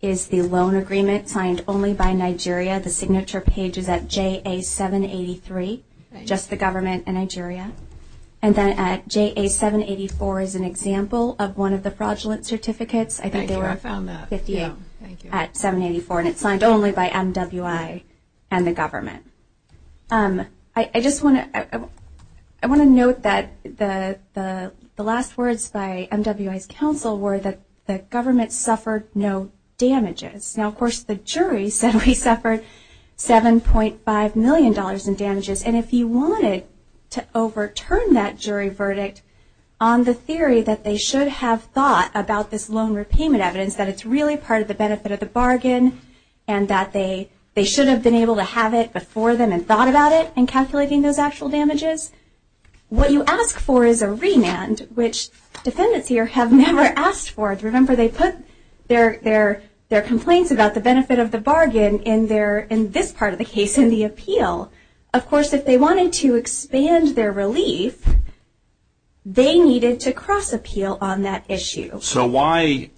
is the loan agreement signed only by Nigeria. The signature page is at JA783, just the government and Nigeria. And then at JA784 is an example of one of the fraudulent certificates. Thank you, I found that. At 784, and it's signed only by MWI and the government. I just want to note that the last words by MWI's counsel were that the government suffered no damages. Now, of course, the jury said we suffered $7.5 million in damages, and if you wanted to overturn that jury verdict on the theory that they should have thought about this loan repayment evidence, that it's really part of the benefit of the bargain and that they should have been able to have it before them and thought about it in calculating those actual damages, what you ask for is a remand, which defendants here have never asked for. Remember, they put their complaints about the benefit of the bargain in this part of the case, in the appeal. Of course, if they wanted to expand their relief, they needed to cross-appeal on that issue. So why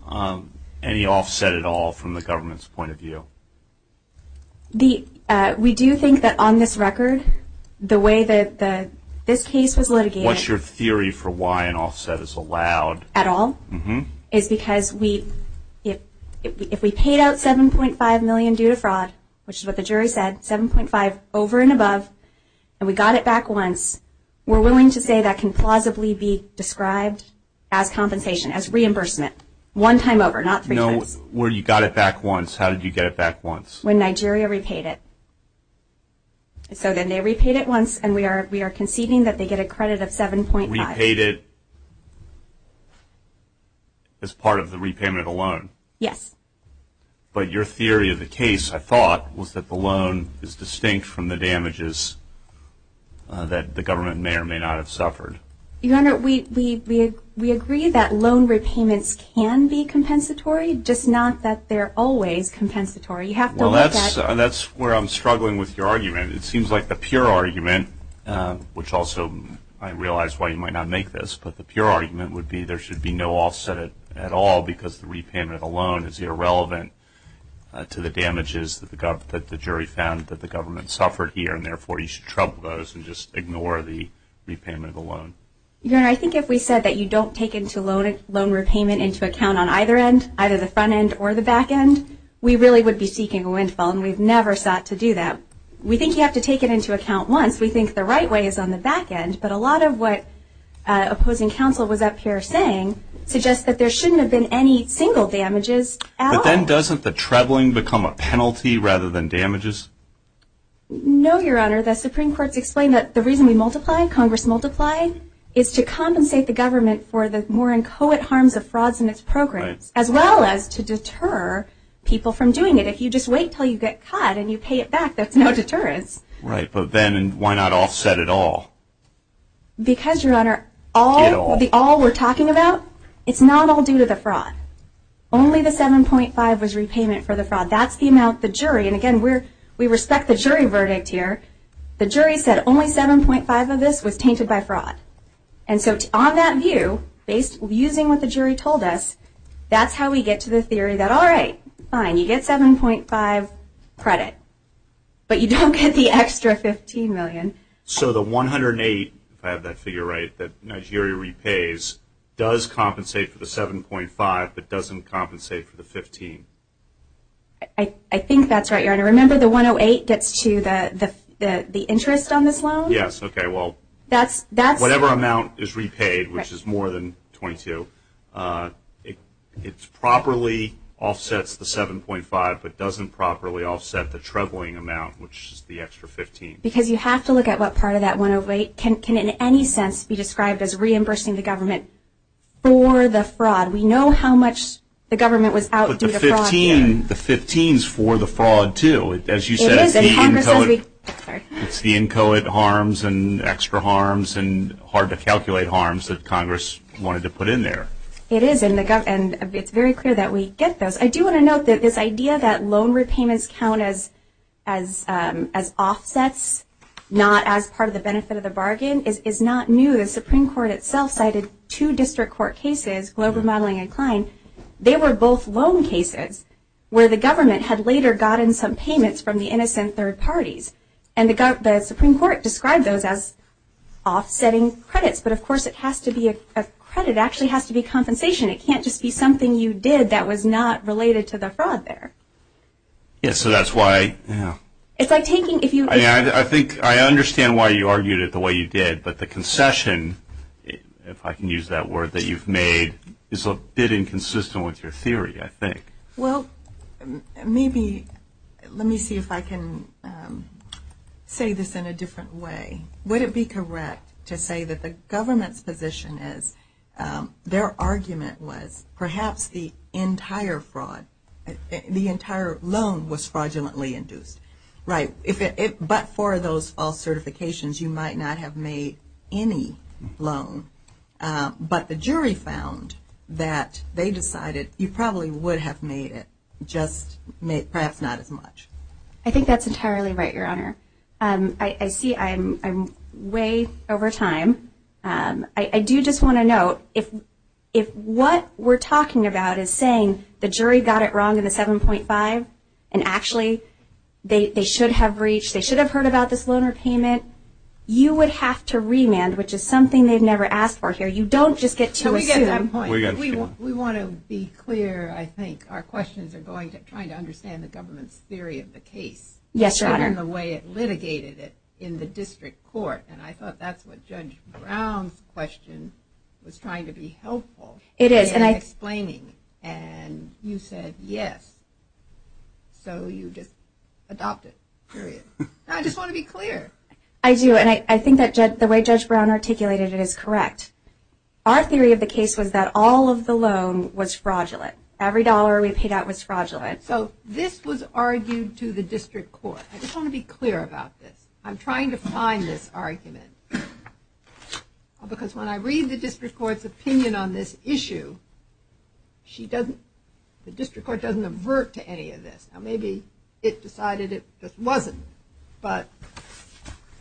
any offset at all from the government's point of view? We do think that on this record, the way that this case was litigated... What's your theory for why an offset is allowed? ...at all is because if we paid out $7.5 million due to fraud, which is what the jury said, $7.5 over and above, and we got it back once, we're willing to say that can plausibly be described as compensation, as reimbursement, one time over, not three times. No, when you got it back once, how did you get it back once? When Nigeria repaid it. So then they repaid it once, and we are conceding that they get a credit of $7.5. They repaid it as part of the repayment of the loan. Yes. But your theory of the case, I thought, was that the loan is distinct from the damages that the government may or may not have suffered. Your Honor, we agree that loan repayments can be compensatory, just not that they're always compensatory. It seems like the pure argument, which also I realize why you might not make this, but the pure argument would be there should be no offset at all because the repayment alone is irrelevant to the damages that the jury found that the government suffered here, and therefore you should trouble those and just ignore the repayment alone. Your Honor, I think if we said that you don't take loan repayment into account on either end, either the front end or the back end, we really would be seeking a windfall, and we've never sought to do that. We think you have to take it into account once. We think the right way is on the back end, but a lot of what opposing counsel was up here saying suggests that there shouldn't have been any single damages at all. But then doesn't the troubling become a penalty rather than damages? No, Your Honor. The Supreme Court explained that the reason we multiply, Congress multiplies, is to compensate the government for the more inchoate harms of frauds in its program, as well as to deter people from doing it. If you just wait until you get caught and you pay it back, that's no deterrence. Right, but then why not offset at all? Because, Your Honor, all we're talking about, it's not all due to the fraud. Only the 7.5 was repayment for the fraud. That's the amount the jury, and again, we respect the jury verdict here. The jury said only 7.5 of this was tainted by fraud, and so on that view, using what the jury told us, that's how we get to the theory that, all right, fine, you get 7.5 credit, but you don't get the extra 15 million. So the 108, if I have that figure right, that the jury repays, does compensate for the 7.5, but doesn't compensate for the 15. I think that's right, Your Honor. Remember the 108 gets to the interest on this loan? Yes, okay, well, whatever amount is repaid, which is more than 22, it properly offsets the 7.5, but doesn't properly offset the troubling amount, which is the extra 15. Because you have to look at what part of that 108 can, in any sense, be described as reimbursing the government for the fraud. We know how much the government would outdo the fraud here. But the 15 is for the fraud, too. It is. It's the inchoate harms and extra harms and hard-to-calculate harms that Congress wanted to put in there. It is, and it's very clear that we get those. I do want to note that this idea that loan repayments count as offsets, not as part of the benefit of the bargain, is not new. The Supreme Court itself cited two district court cases, Logan, Madeline, and Klein. They were both loan cases where the government had later gotten some payments from the innocent third parties. And the Supreme Court described those as offsetting credits. But, of course, it has to be a credit. It actually has to be compensation. It can't just be something you did that was not related to the fraud there. Yes, so that's why. It's like taking if you. I think I understand why you argued it the way you did. But the concession, if I can use that word that you've made, is a bit inconsistent with your theory, I think. Well, maybe let me see if I can say this in a different way. Would it be correct to say that the government's position is their argument was perhaps the entire loan was fraudulently induced? Right. But for those all certifications, you might not have made any loan. But the jury found that they decided you probably would have made it, just perhaps not as much. I think that's entirely right, Your Honor. I see I'm way over time. I do just want to note, if what we're talking about is saying the jury got it wrong in the 7.5 and actually they should have reached, they should have heard about this loan or payment, you would have to remand, which is something they've never asked for here. You don't just get to it. We want to be clear, I think. Our questions are going to trying to understand the government's theory of the case. Yes, Your Honor. And the way it litigated it in the district court. And I thought that's what Judge Brown's question was trying to be helpful in explaining. And you said yes. So you just adopted it. I just want to be clear. I do. And I think that the way Judge Brown articulated it is correct. Our theory of the case was that all of the loan was fraudulent. Every dollar we paid out was fraudulent. So this was argued to the district court. I just want to be clear about this. I'm trying to find this argument. Because when I read the district court's opinion on this issue, the district court doesn't avert to any of this. Maybe it decided it just wasn't. But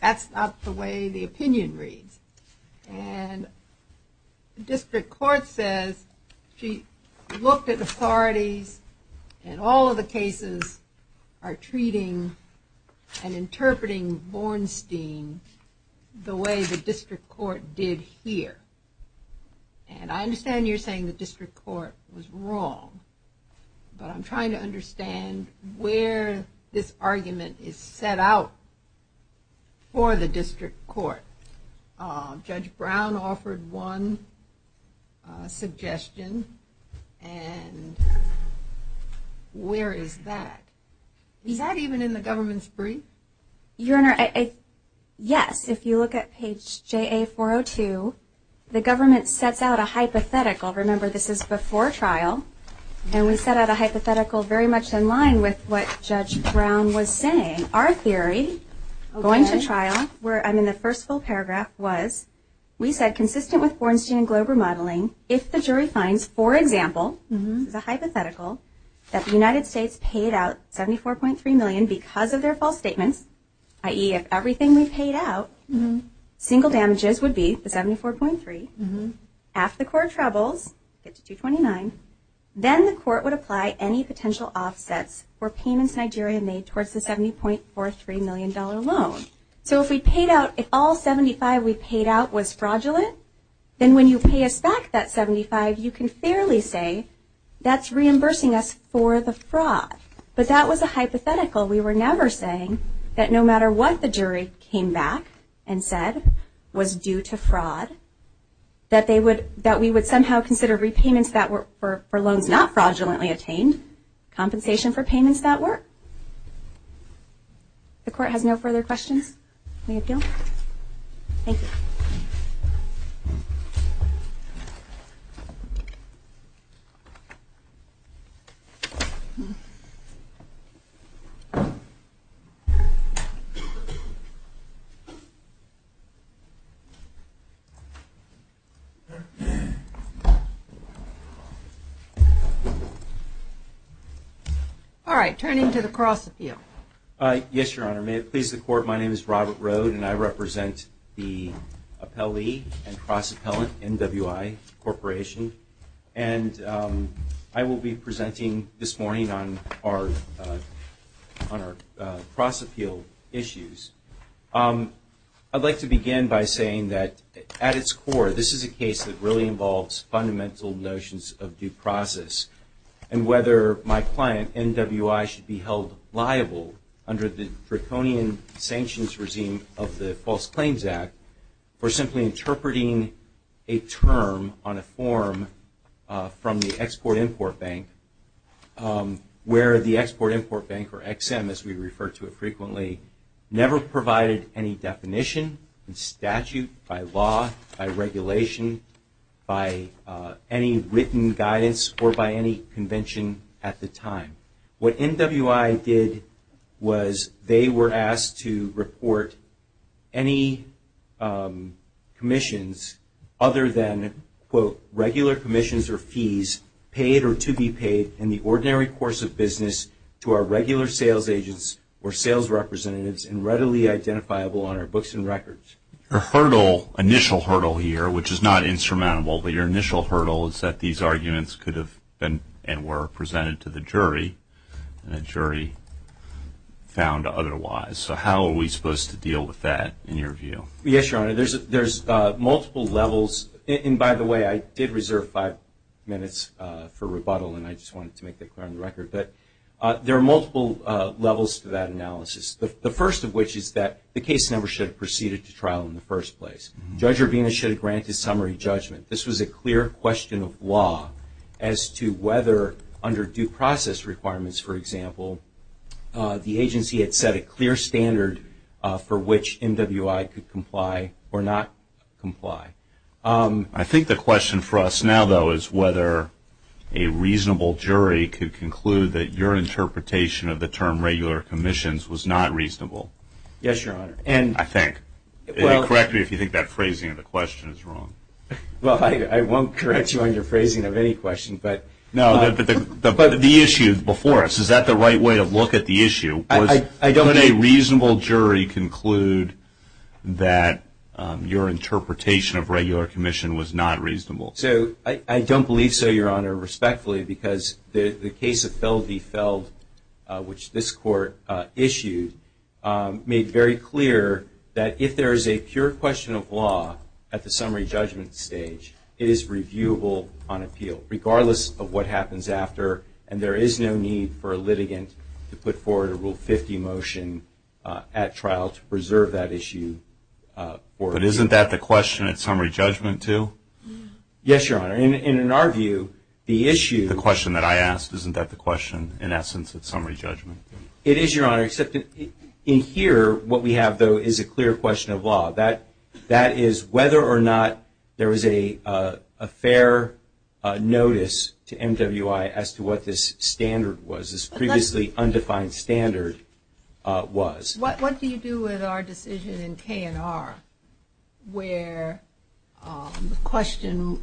that's not the way the opinion reads. And the district court says she looked at authority. And all of the cases are treating and interpreting Bornstein the way the district court did here. And I understand you're saying the district court was wrong. But I'm trying to understand where this argument is set out for the district court. Judge Brown offered one suggestion. And where is that? Is that even in the government's brief? Your Honor, yes. If you look at page JA402, the government sets out a hypothetical. Remember, this is before trial. And we set out a hypothetical very much in line with what Judge Brown was saying. Our theory, going to trial, I mean the first full paragraph was, we said consistent with Bornstein and Globe remodeling, if the jury finds, for example, the hypothetical, that the United States paid out $74.3 million because of their false statement, i.e., if everything we paid out, single damages would be the $74.3, if the court troubles, $62.9, then the court would apply any potential offsets for payments Nigeria made towards the $70.43 million loan. So if we paid out, if all $75 we paid out was fraudulent, then when you pay us back that $75, you can fairly say that's reimbursing us for the fraud. But that was a hypothetical. We were never saying that no matter what the jury came back and said was due to fraud, that we would somehow consider repayments that were for loans not fraudulently obtained, compensation for payments that were. The court has no further questions? Thank you. All right, turn it to the cross with you. Yes, Your Honor. May it please the court, my name is Robert Rode, and I represent the appellee and cross-appellant NWI Corporation, and I will be presenting this morning on our cross-appeal issues. I'd like to begin by saying that at its core, this is a case that really involves fundamental notions of due process, and whether my client, NWI, should be held liable under the draconian sanctions regime of the False Claims Act, or simply interpreting a term on a form from the Export-Import Bank, where the Export-Import Bank, or XM as we refer to it frequently, never provided any definition in statute, by law, by regulation, by any written guidance, or by any convention at the time. What NWI did was they were asked to report any commissions other than, quote, regular commissions or fees paid or to be paid in the ordinary course of business to our regular sales agents or sales representatives and readily identifiable on our books and records. Your hurdle, initial hurdle here, which is not insurmountable, but your initial hurdle is that these arguments could have been and were presented to the jury and the jury found otherwise. So how are we supposed to deal with that in your view? Yes, Your Honor, there's multiple levels. And by the way, I did reserve five minutes for rebuttal, and I just wanted to make that clear on the record. But there are multiple levels to that analysis. The first of which is that the case member should have proceeded to trial in the first place. Judge Urvina should have granted summary judgment. This was a clear question of law as to whether under due process requirements, for example, the agency had set a clear standard for which NWI could comply or not comply. I think the question for us now, though, is whether a reasonable jury could conclude that your interpretation of the term regular commissions was not reasonable. Yes, Your Honor. I think. Correct me if you think that phrasing of the question is wrong. Well, I won't correct you on your phrasing of any question. No, but the issue before us, is that the right way to look at the issue? Would a reasonable jury conclude that your interpretation of regular commission was not reasonable? I don't believe so, Your Honor, respectfully, because the case of Feld v. Feld, which this court issued, made very clear that if there is a pure question of law at the summary judgment stage, it is reviewable on appeal, regardless of what happens after, and there is no need for a litigant to put forward a Rule 50 motion at trial to preserve that issue. But isn't that the question at summary judgment, too? Yes, Your Honor. And in our view, the issue. The question that I asked, isn't that the question, in essence, at summary judgment? It is, Your Honor, except in here, what we have, though, is a clear question of law. That is whether or not there is a fair notice to MWI as to what this standard was, this previously undefined standard was. What do you do with our decision in K&R where the question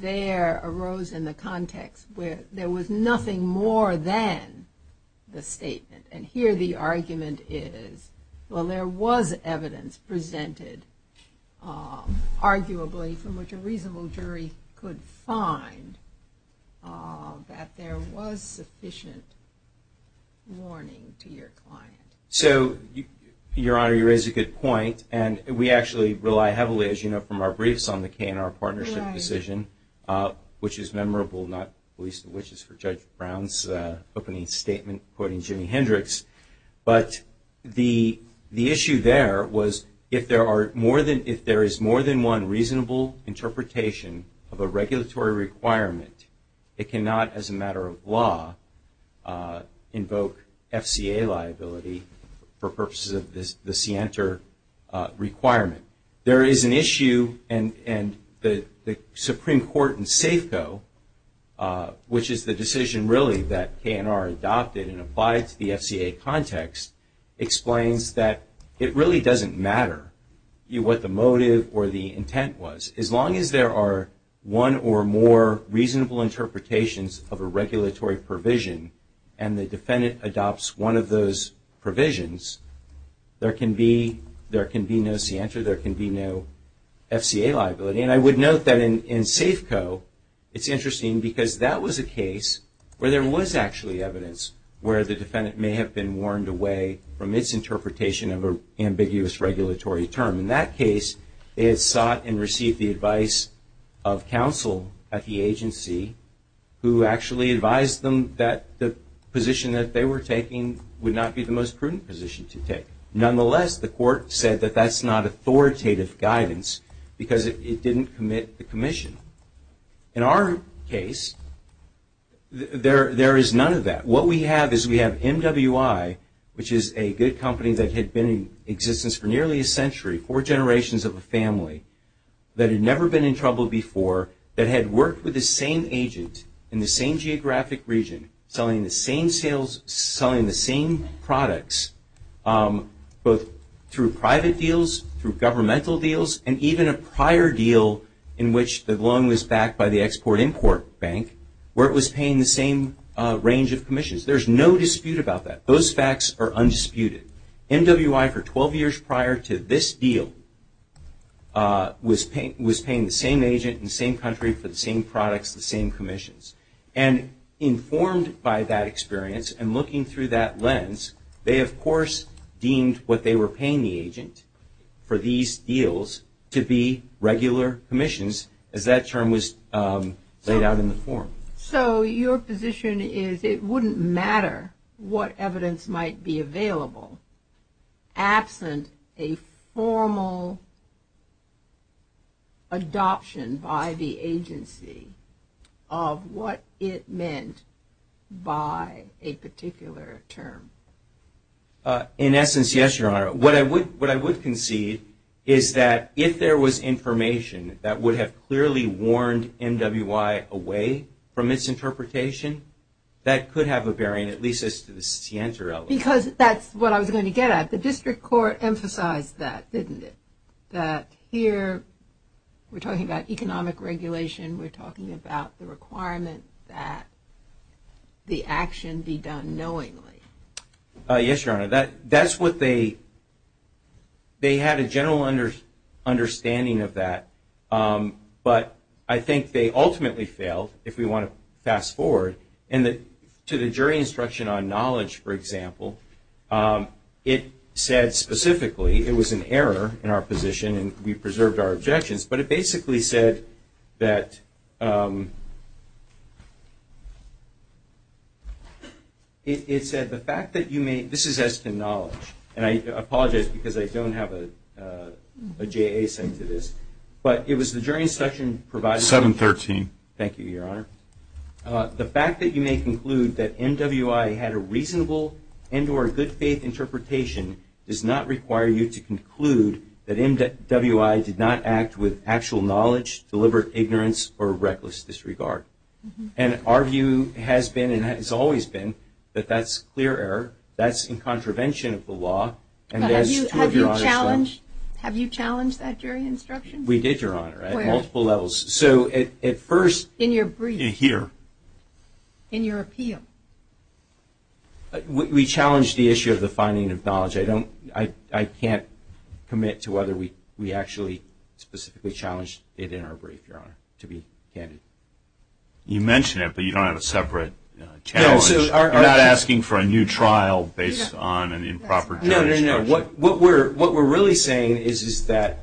there arose in the context where there was nothing more than the statement? And here the argument is, well, there was evidence presented, arguably, from which a reasonable jury could find that there was sufficient warning to your client. So, Your Honor, you raise a good point, and we actually rely heavily, as you know, from our briefs on the K&R partnership decision, which is memorable, not least of which is for Judge Brown's opening statement quoting Jimi Hendrix. But the issue there was, if there is more than one reasonable interpretation of a regulatory requirement, it cannot, as a matter of law, invoke FCA liability for purposes of the CNTR requirement. There is an issue, and the Supreme Court in Safeco, which is the decision really that K&R adopted and applied to the FCA context, explains that it really doesn't matter what the motive or the intent was. As long as there are one or more reasonable interpretations of a regulatory provision and the defendant adopts one of those provisions, there can be no CNTR, there can be no FCA liability. And I would note that in Safeco, it's interesting because that was a case where there was actually evidence where the defendant may have been warned away from its interpretation of an ambiguous regulatory term. In that case, it sought and received the advice of counsel at the agency who actually advised them that the position that they were taking would not be the most prudent position to take. Nonetheless, the court said that that's not authoritative guidance because it didn't commit the commission. In our case, there is none of that. What we have is we have MWI, which is a good company that had been in existence for nearly a century, four generations of a family, that had never been in trouble before, that had worked with the same agent in the same geographic region, selling the same sales, selling the same products both through private deals, through governmental deals, and even a prior deal in which the loan was backed by the Export-Import Bank where it was paying the same range of commissions. There's no dispute about that. Those facts are undisputed. MWI, for 12 years prior to this deal, was paying the same agent in the same country for the same products, the same commissions, and informed by that experience and looking through that lens, they of course deemed what they were paying the agent for these deals to be regular commissions as that term was laid out in the form. So your position is it wouldn't matter what evidence might be available absent a formal adoption by the agency of what it meant by a particular term? In essence, yes, Your Honor. What I would concede is that if there was information that would have clearly warned MWI away from its interpretation, that could have a bearing, at least as to the scienter element. Because that's what I was going to get at. The district court emphasized that, didn't it, that here we're talking about economic regulation, we're talking about the requirement that the action be done knowingly. Yes, Your Honor. That's what they had a general understanding of that. But I think they ultimately failed, if we want to fast forward. To the jury instruction on knowledge, for example, it said specifically it was an error in our position and we preserved our objections. But it basically said that the fact that you may, this is as to knowledge, and I apologize because I don't have a JA side to this, but it was the jury instruction provided. 713. Thank you, Your Honor. The fact that you may conclude that MWI had a reasonable and or good faith interpretation does not require you to conclude that MWI did not act with actual knowledge, deliberate ignorance, or reckless disregard. And our view has been and has always been that that's clear error, that's in contravention of the law. Have you challenged that jury instruction? We did, Your Honor, at multiple levels. So at first. In your brief. In here. In your appeal. We challenged the issue of the finding of knowledge. I can't commit to whether we actually specifically challenged it in our brief, Your Honor, to be candid. You mentioned it, but you don't have a separate challenge. You're not asking for a new trial based on an improper jury instruction. No, no, no. What we're really saying is that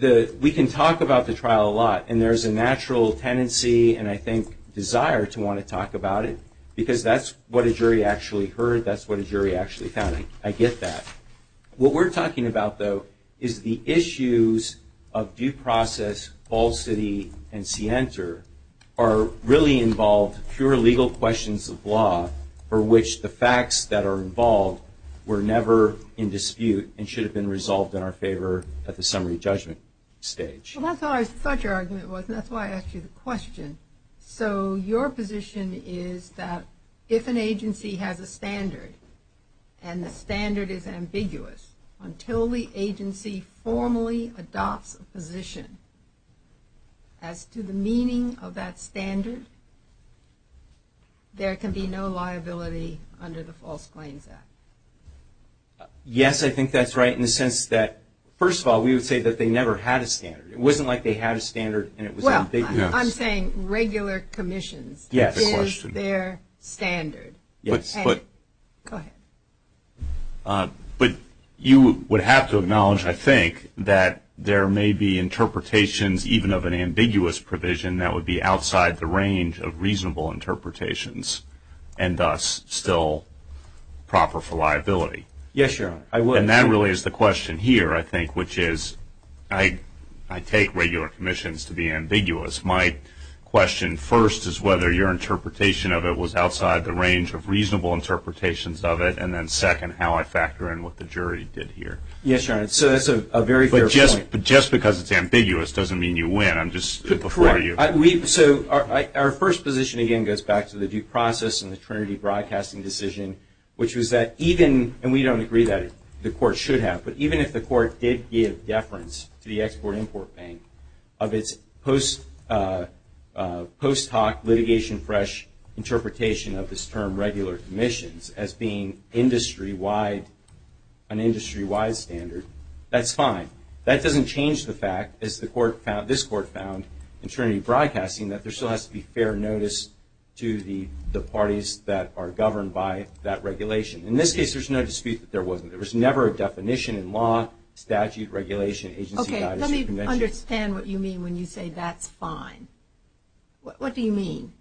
we can talk about the trial a lot, and there's a natural tendency and, I think, desire to want to talk about it, because that's what a jury actually heard, that's what a jury actually had. I get that. What we're talking about, though, is the issues of due process, falsity, and scienter are really involved pure legal questions of law for which the facts that are involved were never in dispute and should have been resolved in our favor at the summary judgment stage. That's what I thought your argument was, and that's why I asked you the question. So your position is that if an agency has a standard, and the standard is ambiguous, until the agency formally adopts a position as to the meaning of that standard, there can be no liability under the False Claims Act. Yes, I think that's right in the sense that, first of all, we would say that they never had a standard. It wasn't like they had a standard and it was ambiguous. Well, I'm saying regular commission is their standard. Go ahead. But you would have to acknowledge, I think, that there may be interpretations, even of an ambiguous provision that would be outside the range of reasonable interpretations and thus still proper for liability. Yes, sure. And that really is the question here, I think, which is I take regular commissions to be ambiguous. My question first is whether your interpretation of it was outside the range of reasonable interpretations of it, and then second, how I factor in what the jury did here. Yes, Your Honor, so that's a very fair point. But just because it's ambiguous doesn't mean you win. I'm just before you. So our first position, again, goes back to the due process and the Trinity Broadcasting decision, which was that even, and we don't agree that the court should have, but even if the court did give deference to the Export-Import Bank of its post-talk litigation fresh interpretation of this term regular commissions as being an industry-wide standard, that's fine. That doesn't change the fact, as this court found in Trinity Broadcasting, that there still has to be fair notice to the parties that are governed by that regulation. In this case, there's no dispute that there wasn't. There was never a definition in law, statute, regulation, agency matters, convention. Okay, let me understand what you mean when you say that's fine. What do you mean?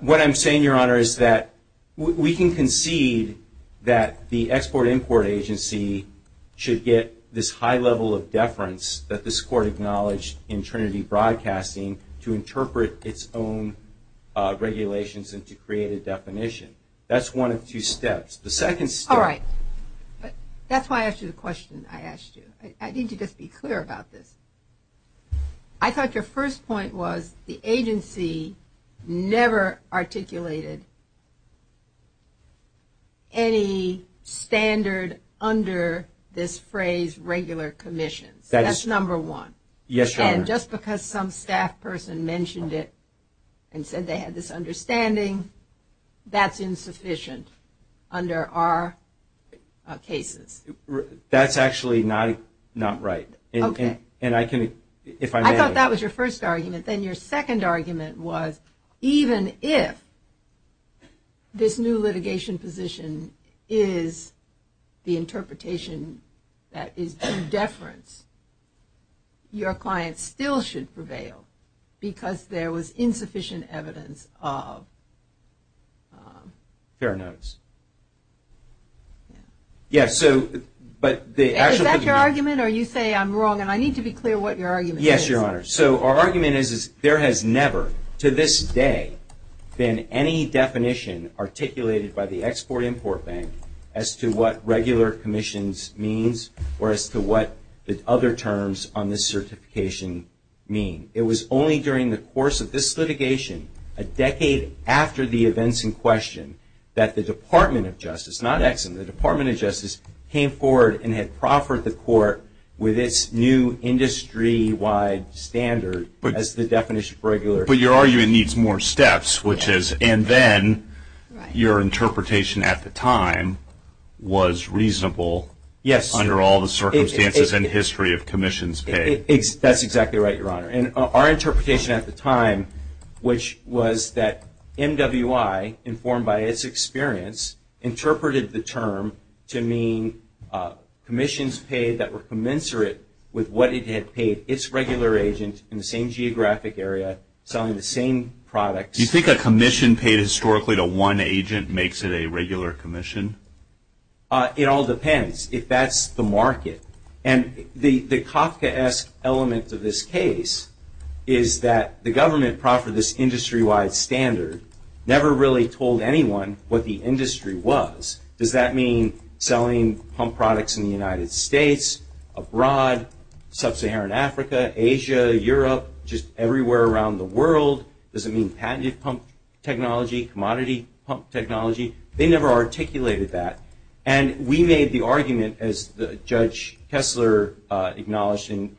What I'm saying, Your Honor, is that we can concede that the Export-Import Agency should get this high level of deference that this court acknowledged in Trinity Broadcasting to interpret its own regulations and to create a definition. That's one of two steps. All right, that's why I asked you the question I asked you. I need to just be clear about this. I thought your first point was the agency never articulated any standard under this phrase regular commission. That's number one. Yes, Your Honor. And just because some staff person mentioned it and said they had this understanding, that's insufficient under our cases. That's actually not right. I thought that was your first argument. Then your second argument was even if this new litigation position is the interpretation that is deference, your client still should prevail because there was insufficient evidence of... Fair enough. Yes, so, but the actual... Is that your argument or you say I'm wrong and I need to be clear what your argument is? Yes, Your Honor. So, our argument is there has never to this day been any definition articulated by the Export-Import Bank as to what regular commissions means or as to what the other terms on this certification mean. It was only during the course of this litigation, a decade after the events in question, that the Department of Justice, not Ex-Im, the Department of Justice came forward and had proffered the court with its new industry-wide standard as the definition for regular... But your argument needs more steps, which is and then your interpretation at the time was reasonable... Yes. ...under all the circumstances and history of commissions case. That's exactly right, Your Honor. And our interpretation at the time, which was that NWI, informed by its experience, interpreted the term to mean commissions paid that were commensurate with what it had paid its regular agent in the same geographic area selling the same products... Do you think a commission paid historically to one agent makes it a regular commission? It all depends if that's the market. And the Kafkaesque element of this case is that the government proffered this industry-wide standard, never really told anyone what the industry was. Does that mean selling pump products in the United States, abroad, sub-Saharan Africa, Asia, Europe, just everywhere around the world? Does it mean patented pump technology, commodity pump technology? They never articulated that. And we made the argument, as Judge Kessler acknowledged in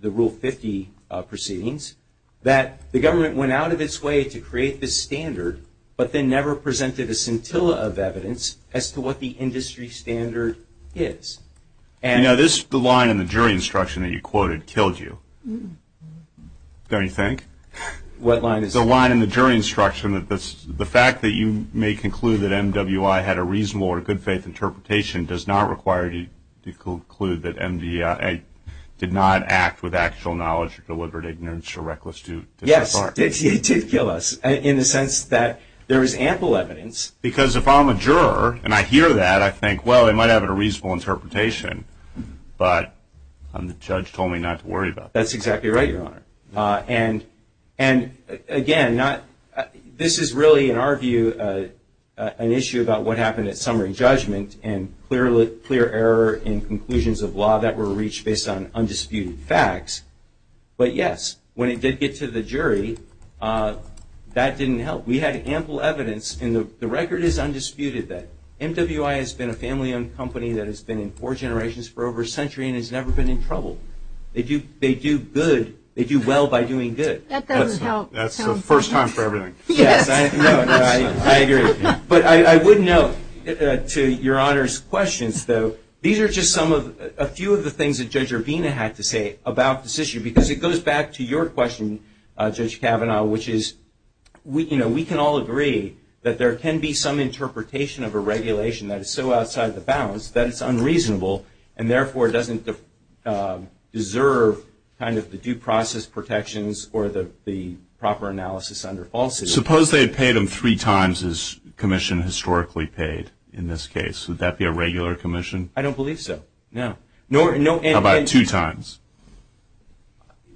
the Rule 50 proceedings, that the government went out of its way to create this standard, but then never presented a scintilla of evidence as to what the industry standard is. Now, this line in the jury instruction that you quoted killed you. What line is it? There's a line in the jury instruction that the fact that you may conclude that MWI had a reasonable or good faith interpretation does not require you to conclude that MWI did not act with actual knowledge or deliberate ignorance or reckless... Yes, it did kill us in the sense that there is ample evidence. Because if I'm a juror and I hear that, I think, well, they might have had a reasonable interpretation, but the judge told me not to worry about that. That's exactly right, Your Honor. And, again, this is really, in our view, an issue about what happened at summary judgment and clear error in conclusions of law that were reached based on undisputed facts. But, yes, when it did get to the jury, that didn't help. We had ample evidence, and the record is undisputed, that MWI has been a family-owned company that has been in for generations for over a century and has never been in trouble. They do good, they do well by doing good. That doesn't help. That's the first time for everything. Yes, I agree. But I would note to Your Honor's question, though, these are just a few of the things that Judge Urbina had to say about this issue because it goes back to your question, Judge Kavanaugh, which is we can all agree that there can be some interpretation of a regulation that is so outside the bounds that it's unreasonable and, therefore, doesn't deserve kind of the due process protections or the proper analysis under falsity. Suppose they had paid him three times his commission historically paid in this case. Would that be a regular commission? I don't believe so, no. How about two times?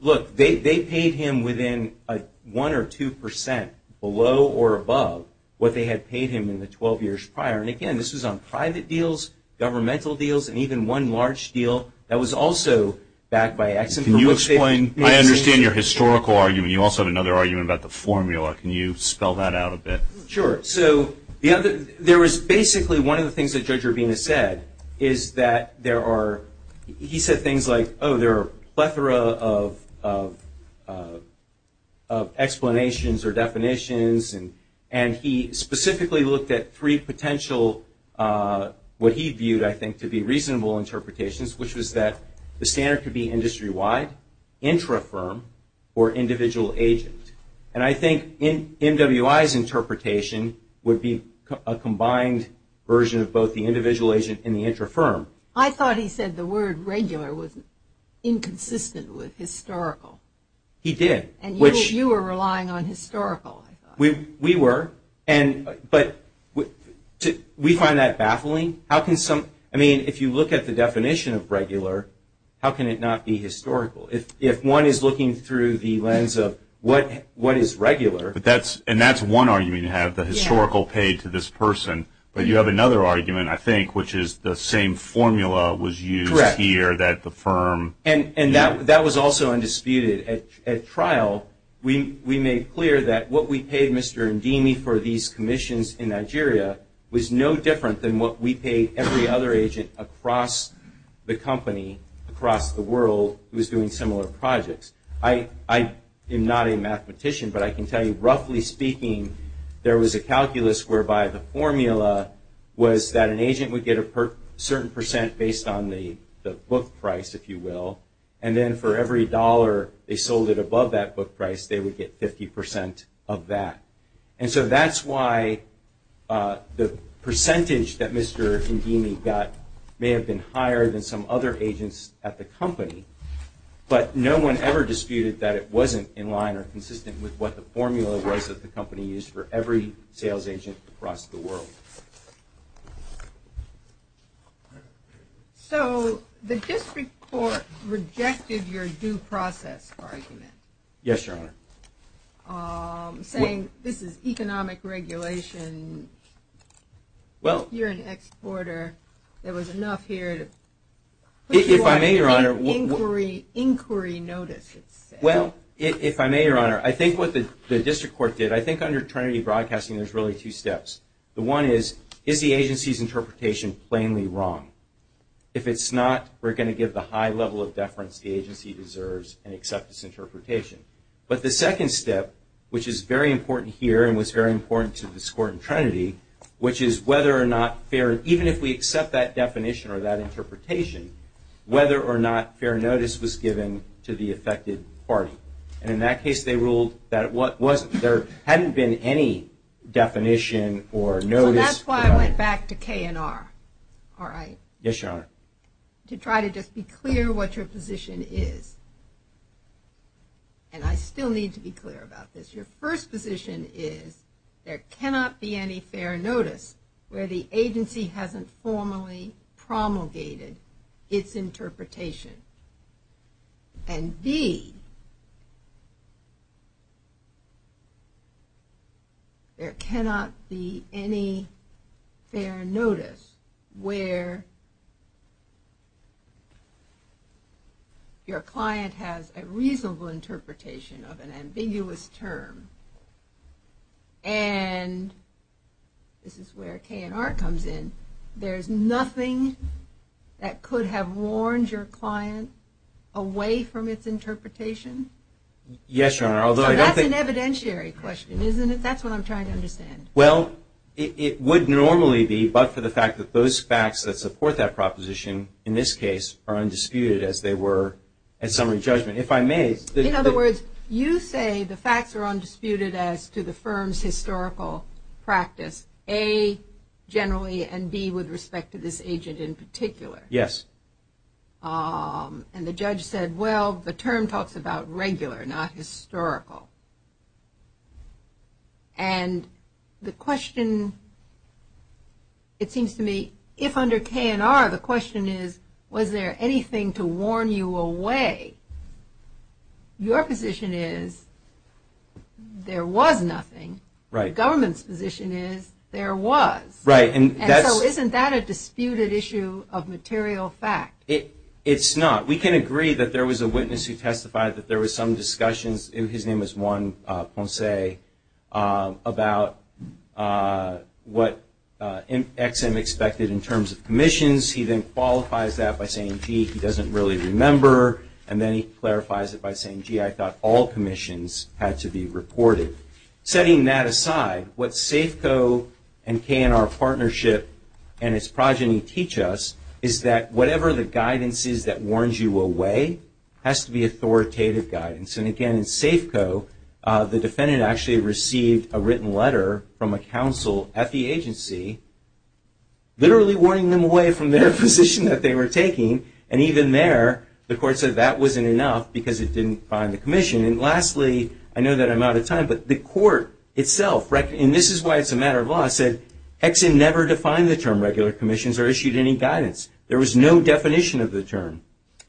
Look, they paid him within 1% or 2% below or above what they had paid him in the 12 years prior. And, again, this was on private deals, governmental deals, and even one large deal that was also backed by Exim. Can you explain? I understand your historical argument. You also have another argument about the formula. Can you spell that out a bit? Sure. So there was basically one of the things that Judge Urbina said is that there are – he said things like, oh, there are a plethora of explanations or definitions, and he specifically looked at three potential, what he viewed, I think, to be reasonable interpretations, which was that the standard could be industry-wide, intra-firm, or individual agent. And I think MWI's interpretation would be a combined version of both the individual agent and the intra-firm. I thought he said the word regular was inconsistent with historical. He did. And you were relying on historical. We were, but we find that baffling. I mean, if you look at the definition of regular, how can it not be historical? If one is looking through the lens of what is regular – And that's one argument you have, the historical pay to this person. But you have another argument, I think, which is the same formula was used here that the firm – And that was also undisputed. At trial, we made clear that what we paid Mr. Ndimi for these commissions in Nigeria was no different than what we paid every other agent across the company, across the world, who was doing similar projects. I am not a mathematician, but I can tell you, roughly speaking, there was a calculus whereby the formula was that an agent would get a certain percent based on the book price, if you will, and then for every dollar they sold it above that book price, they would get 50% of that. And so that's why the percentage that Mr. Ndimi got may have been higher than some other agents at the company. But no one ever disputed that it wasn't in line or consistent with what the formula was that the company used for every sales agent across the world. So the district court rejected your due process argument. Yes, Your Honor. Saying this is economic regulation, you're an exporter, there was enough here to put you on inquiry notice. Well, if I may, Your Honor, I think what the district court did, I think under Trinity Broadcasting there's really two steps. The one is, is the agency's interpretation plainly wrong? If it's not, we're going to give the high level of deference the agency deserves and accept this interpretation. But the second step, which is very important here and was very important to this court in Trinity, which is whether or not fair, even if we accept that definition or that interpretation, whether or not fair notice was given to the affected party. And in that case they ruled that there hadn't been any definition or notice. Well, that's why I went back to K&R, all right? Yes, Your Honor. To try to just be clear what your position is. And I still need to be clear about this. Your first position is there cannot be any fair notice where the agency hasn't formally promulgated its interpretation. And D, there cannot be any fair notice where your client has a reasonable interpretation of an ambiguous term. And this is where K&R comes in. There's nothing that could have warned your client away from its interpretation? Yes, Your Honor. That's an evidentiary question, isn't it? That's what I'm trying to understand. Well, it would normally be but for the fact that those facts that support that proposition, in this case, are undisputed as they were at summary judgment. In other words, you say the facts are undisputed as to the firm's historical practice, A, generally, and B, with respect to this agent in particular. Yes. And the judge said, well, the term talks about regular, not historical. And the question, it seems to me, if under K&R the question is, was there anything to warn you away, your position is, there was nothing. Right. The government's position is, there was. Right. And so isn't that a disputed issue of material fact? It's not. We can agree that there was a witness who testified that there was some discussions, his name was Juan Fonse, about what Ex-Im expected in terms of commissions. He then qualifies that by saying, gee, he doesn't really remember. And then he clarifies it by saying, gee, I thought all commissions had to be reported. Setting that aside, what SAFCO and K&R partnership and its progeny teach us is that whatever the guidance is that warns you away has to be authoritative guidance. And, again, in SAFCO, the defendant actually received a written letter from a counsel at the agency, literally warning them away from their position that they were taking. And even there, the court said that wasn't enough because it didn't define the commission. And lastly, I know that I'm out of time, but the court itself, and this is why it's a matter of law, said Ex-Im never defined the term regular commissions or issued any guidance. There was no definition of the term.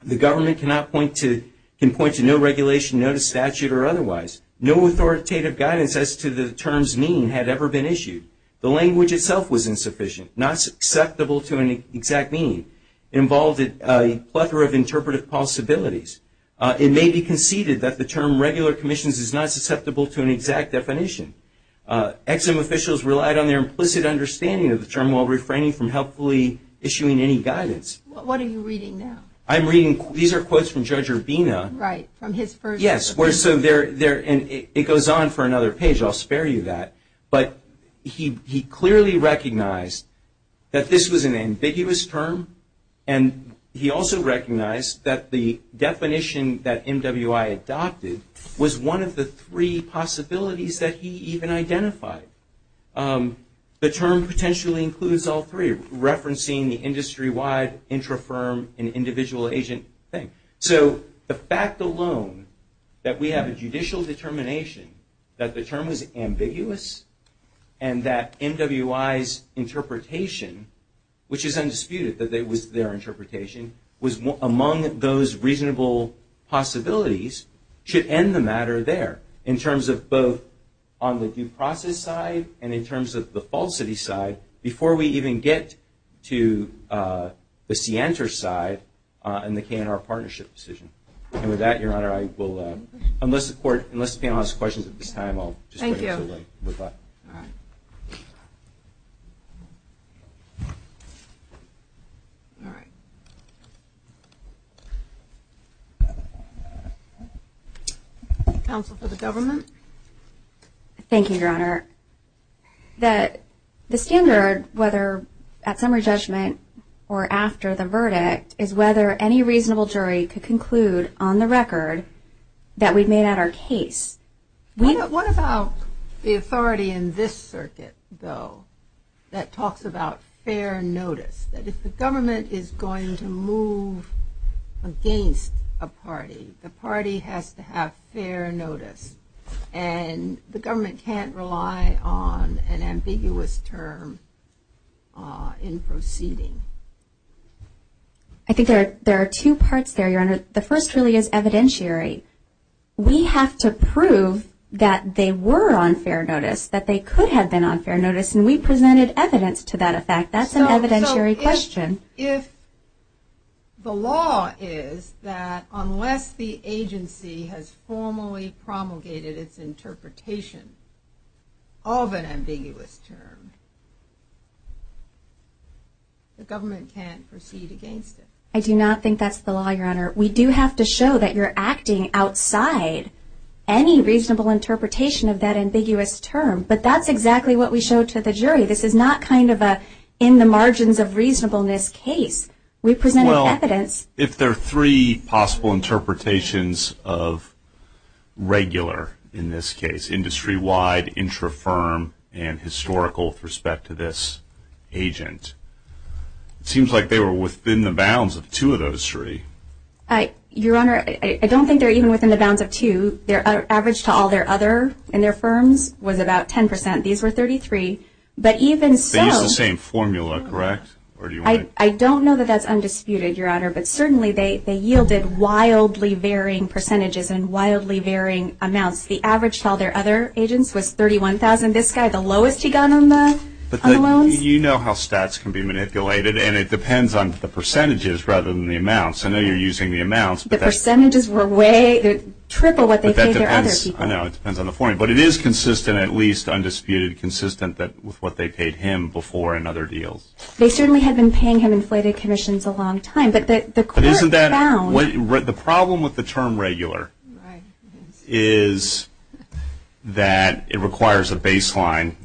The government cannot point to, can point to no regulation, no statute or otherwise. No authoritative guidance as to the terms mean had ever been issued. The language itself was insufficient, not susceptible to an exact need. It involved a plethora of interpretive possibilities. It may be conceded that the term regular commissions is not susceptible to an exact definition. Ex-Im officials relied on their implicit understanding of the term while refraining from helpfully issuing any guidance. What are you reading now? I'm reading, these are quotes from Judge Urbina. Right, from his first. Yes. And it goes on for another page. I'll spare you that. But he clearly recognized that this was an ambiguous term, and he also recognized that the definition that MWI adopted was one of the three possibilities that he even identified. The term potentially includes all three, referencing the industry-wide, intrafirm, and individual agent thing. So the fact alone that we have a judicial determination that the term is ambiguous and that MWI's interpretation, which is undisputed that it was their interpretation, was among those reasonable possibilities should end the matter there in terms of both on the due process side and in terms of the falsity side before we even get to the scienter side in the KNR partnership decision. And with that, Your Honor, I will unless the panel has questions at this time, I'll just turn it over. Thank you. Counsel for the government. Thank you, Your Honor. The standard, whether at summary judgment or after the verdict, is whether any reasonable jury could conclude on the record that we've made out our case. What about the authority in this circuit, though, that talks about fair notice? If the government is going to move against a party, the party has to have fair notice, and the government can't rely on an ambiguous term in proceeding. I think there are two parts there, Your Honor. The first really is evidentiary. We have to prove that they were on fair notice, that they could have been on fair notice, and we presented evidence to that effect. That's an evidentiary question. If the law is that unless the agency has formally promulgated its interpretation of an ambiguous term, the government can't proceed against it. I do not think that's the law, Your Honor. We do have to show that you're acting outside any reasonable interpretation of that ambiguous term, but that's exactly what we showed to the jury. This is not kind of an in-the-margins-of-reasonableness case. We presented evidence. Well, if there are three possible interpretations of regular in this case, industry-wide, intra-firm, and historical with respect to this agent, it seems like they were within the bounds of two of those three. Your Honor, I don't think they're even within the bounds of two. Their average to all their other, in their firms, was about 10%. These were 33. But even so. They use the same formula, correct? I don't know that that's undisputed, Your Honor, but certainly they yielded wildly varying percentages and wildly varying amounts. The average to all their other agents was 31,000. This guy, the lowest he got on the loan. You know how stats can be manipulated, and it depends on the percentages rather than the amounts, and then you're using the amounts. The percentages were triple what they paid their other agents. It depends on the formula. But it is consistent, at least, undisputed, consistent with what they paid him before in other deals. They certainly had been paying him inflated commissions a long time. But the court found. The problem with the term regular is that it requires a baseline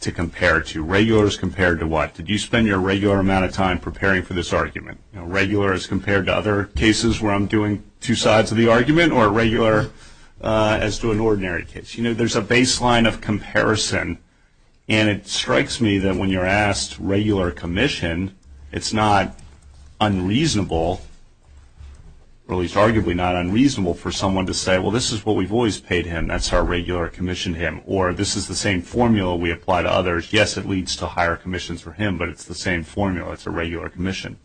to compare to. Regular is compared to what? Did you spend your regular amount of time preparing for this argument? Regular is compared to other cases where I'm doing two sides of the argument, or regular as to an ordinary case. You know, there's a baseline of comparison, and it strikes me that when you're asked regular commission, it's not unreasonable, or at least arguably not unreasonable for someone to say, well, this is what we've always paid him. That's our regular commission to him. Or this is the same formula we apply to others. Yes, it leads to higher commissions for him, but it's the same formula. It's a regular commission.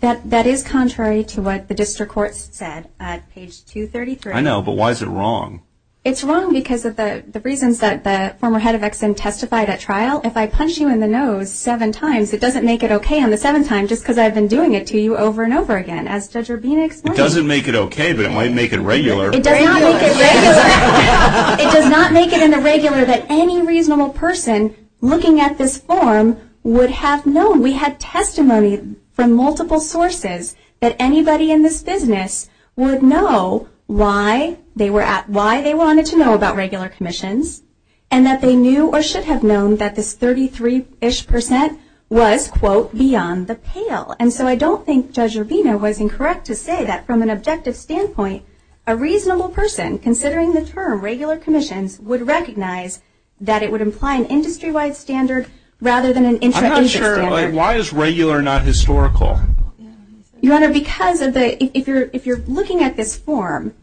That is contrary to what the district court said at page 233. I know, but why is it wrong? It's wrong because of the reasons that the former head of Ex-Im testified at trial. If I punch you in the nose seven times, it doesn't make it okay on the seven times, just because I've been doing it to you over and over again, as Judge Urbina explained. It doesn't make it okay, but it might make it regular. It does not make it regular. It does not make it in the regular that any reasonable person looking at this form would have known. We have testimony from multiple sources that anybody in this business would know why they wanted to know about regular commissions and that they knew or should have known that this 33-ish percent was, quote, beyond the pale. And so I don't think Judge Urbina was incorrect to say that from an objective standpoint, a reasonable person considering the term regular commission would recognize that it would imply an industry-wide standard rather than an industry-wide standard. I'm not sure. Why is regular not historical? Your Honor, because if you're looking at this form,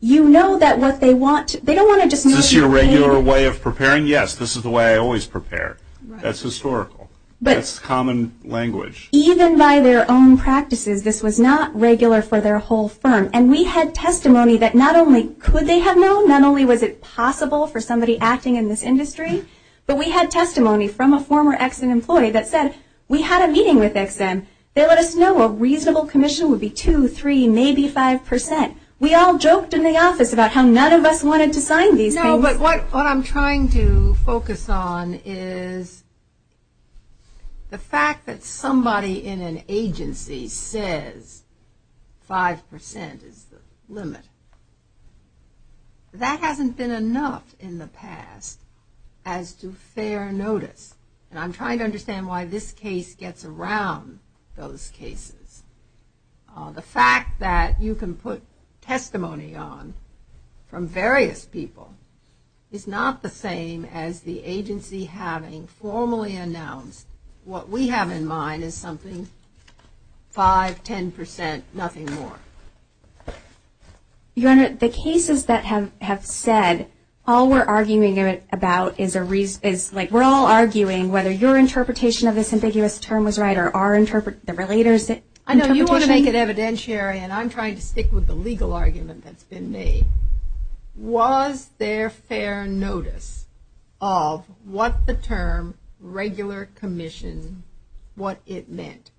you know that what they want to – they don't want to just – Is this your regular way of preparing? Yes, this is the way I always prepare. That's historical. That's common language. Even by their own practices, this was not regular for their whole firm, and we had testimony that not only could they have known, not only was it possible for somebody acting in this industry, but we had testimony from a former Ex-Im employee that says, we had a meeting with Ex-Im. They let us know a reasonable commission would be 2, 3, maybe 5 percent. We all joked in the office about how none of us wanted to sign these things. No, but what I'm trying to focus on is the fact that somebody in an agency says 5 percent is the limit. That hasn't been enough in the past as to fair notice, and I'm trying to understand why this case gets around those cases. The fact that you can put testimony on from various people is not the same as the agency having formally announced what we have in mind is something 5, 10 percent, nothing more. Your Honor, the cases that have said all we're arguing about is a reason. It's like we're all arguing whether your interpretation of this ambiguous term was right or our interpretation. You want to make it evidentiary, and I'm trying to stick with the legal argument that's been made. Was there fair notice of what the term regular commission, what it meant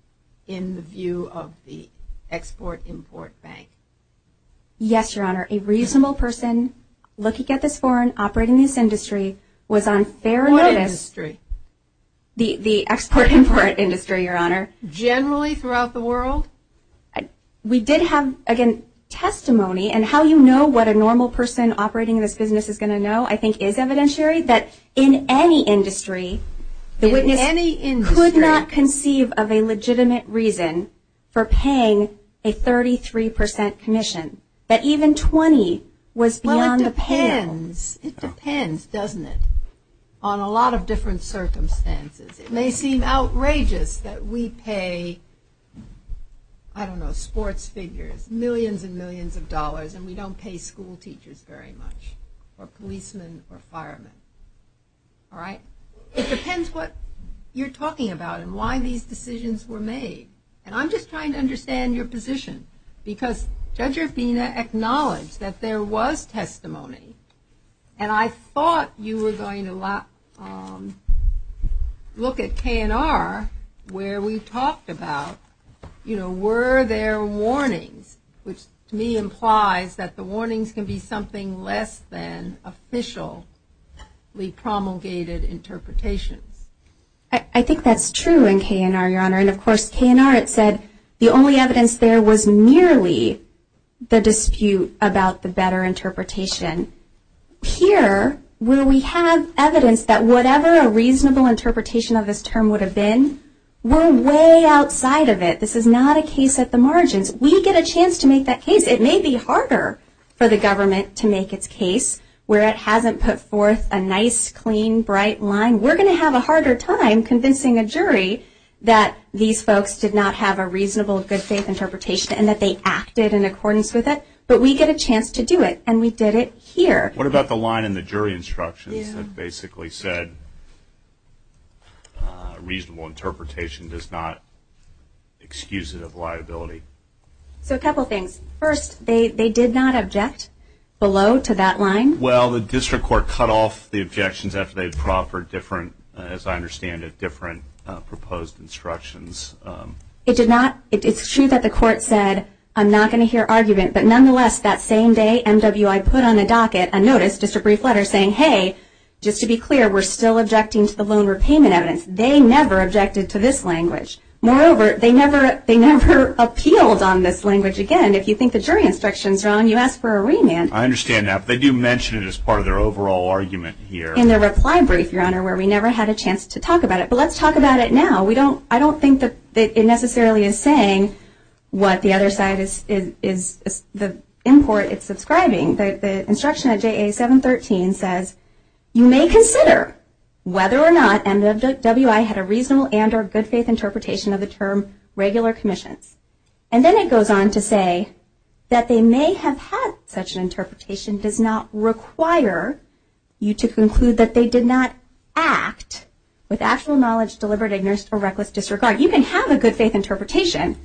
in the view of the Export-Import Bank? Yes, Your Honor. A reasonable person looking at this foreign operating news industry was on fair notice. What industry? The Export-Import Industry, Your Honor. Generally throughout the world? We did have, again, testimony, and how you know what a normal person operating this business is going to know I think is evidentiary, that in any industry the witness could not conceive of a legitimate reason for paying a 33 percent commission, that even 20 was beyond the pay. Well, it depends. It depends, doesn't it, on a lot of different circumstances. It may seem outrageous that we pay, I don't know, sports figures, millions and millions of dollars, and we don't pay school teachers very much or policemen or firemen. All right? It depends what you're talking about and why these decisions were made, and I'm just trying to understand your position because Judge Rufina acknowledged that there was testimony, and I thought you were going to look at K&R where we talked about, you know, were there warnings, which to me implies that the warnings can be something less than official promulgated interpretation. I think that's true in K&R, Your Honor, and, of course, K&R, it said the only evidence there was merely the dispute about the better interpretation. Here, where we have evidence that whatever a reasonable interpretation of this term would have been, we're way outside of it. This is not a case at the margins. We get a chance to make that case. It may be harder for the government to make its case where it hasn't put forth a nice, clean, bright line. We're going to have a harder time convincing a jury that these folks did not have a reasonable, good, safe interpretation and that they acted in accordance with it, but we get a chance to do it, and we did it here. What about the line in the jury instructions that basically said reasonable interpretation does not excuse it of liability? So a couple things. First, they did not object below to that line. Well, the district court cut off the objections after they had put out for different, as I understand it, different proposed instructions. It did not. It's true that the court said, I'm not going to hear argument, but, nonetheless, that same day, NWI put on a docket a notice, just a brief letter, saying, hey, just to be clear, we're still objecting to the loan repayment evidence. They never objected to this language. Moreover, they never appealed on this language again. If you think the jury instructions are on, you ask for a remand. I understand that. They do mention it as part of their overall argument here. In their reply brief, Your Honor, where we never had a chance to talk about it. But let's talk about it now. I don't think that it necessarily is saying what the other side is, the import is describing. The instruction at JA 713 says, you may consider whether or not NWI had a reasonable and or good, safe interpretation of the term regular commission. And then it goes on to say that they may have had such an interpretation does not require you to conclude that they did not act with actual knowledge, deliberate ignorance, or reckless disregard. You can have a good, safe interpretation,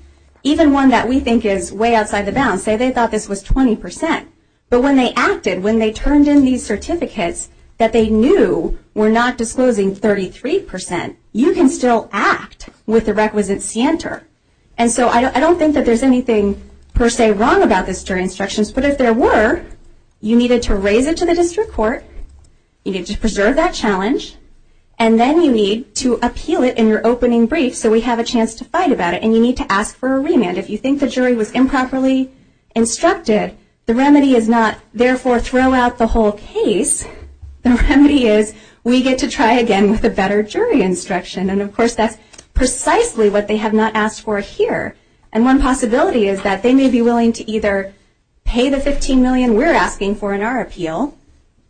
even one that we think is way outside the bounds. Say they thought this was 20%. But when they acted, when they turned in these certificates that they knew were not disclosing 33%, you can still act with the requisite scienter. And so I don't think that there's anything per se wrong about this jury instruction. But if there were, you needed to raise it to the district court. You need to preserve that challenge. And then you need to appeal it in your opening brief so we have a chance to fight about it. And you need to ask for a remand. If you think the jury was improperly instructed, the remedy is not therefore throw out the whole case. The remedy is we get to try again with a better jury instruction. And, of course, that's precisely what they have not asked for here. And one possibility is that they may be willing to either pay the $15 million we're asking for in our appeal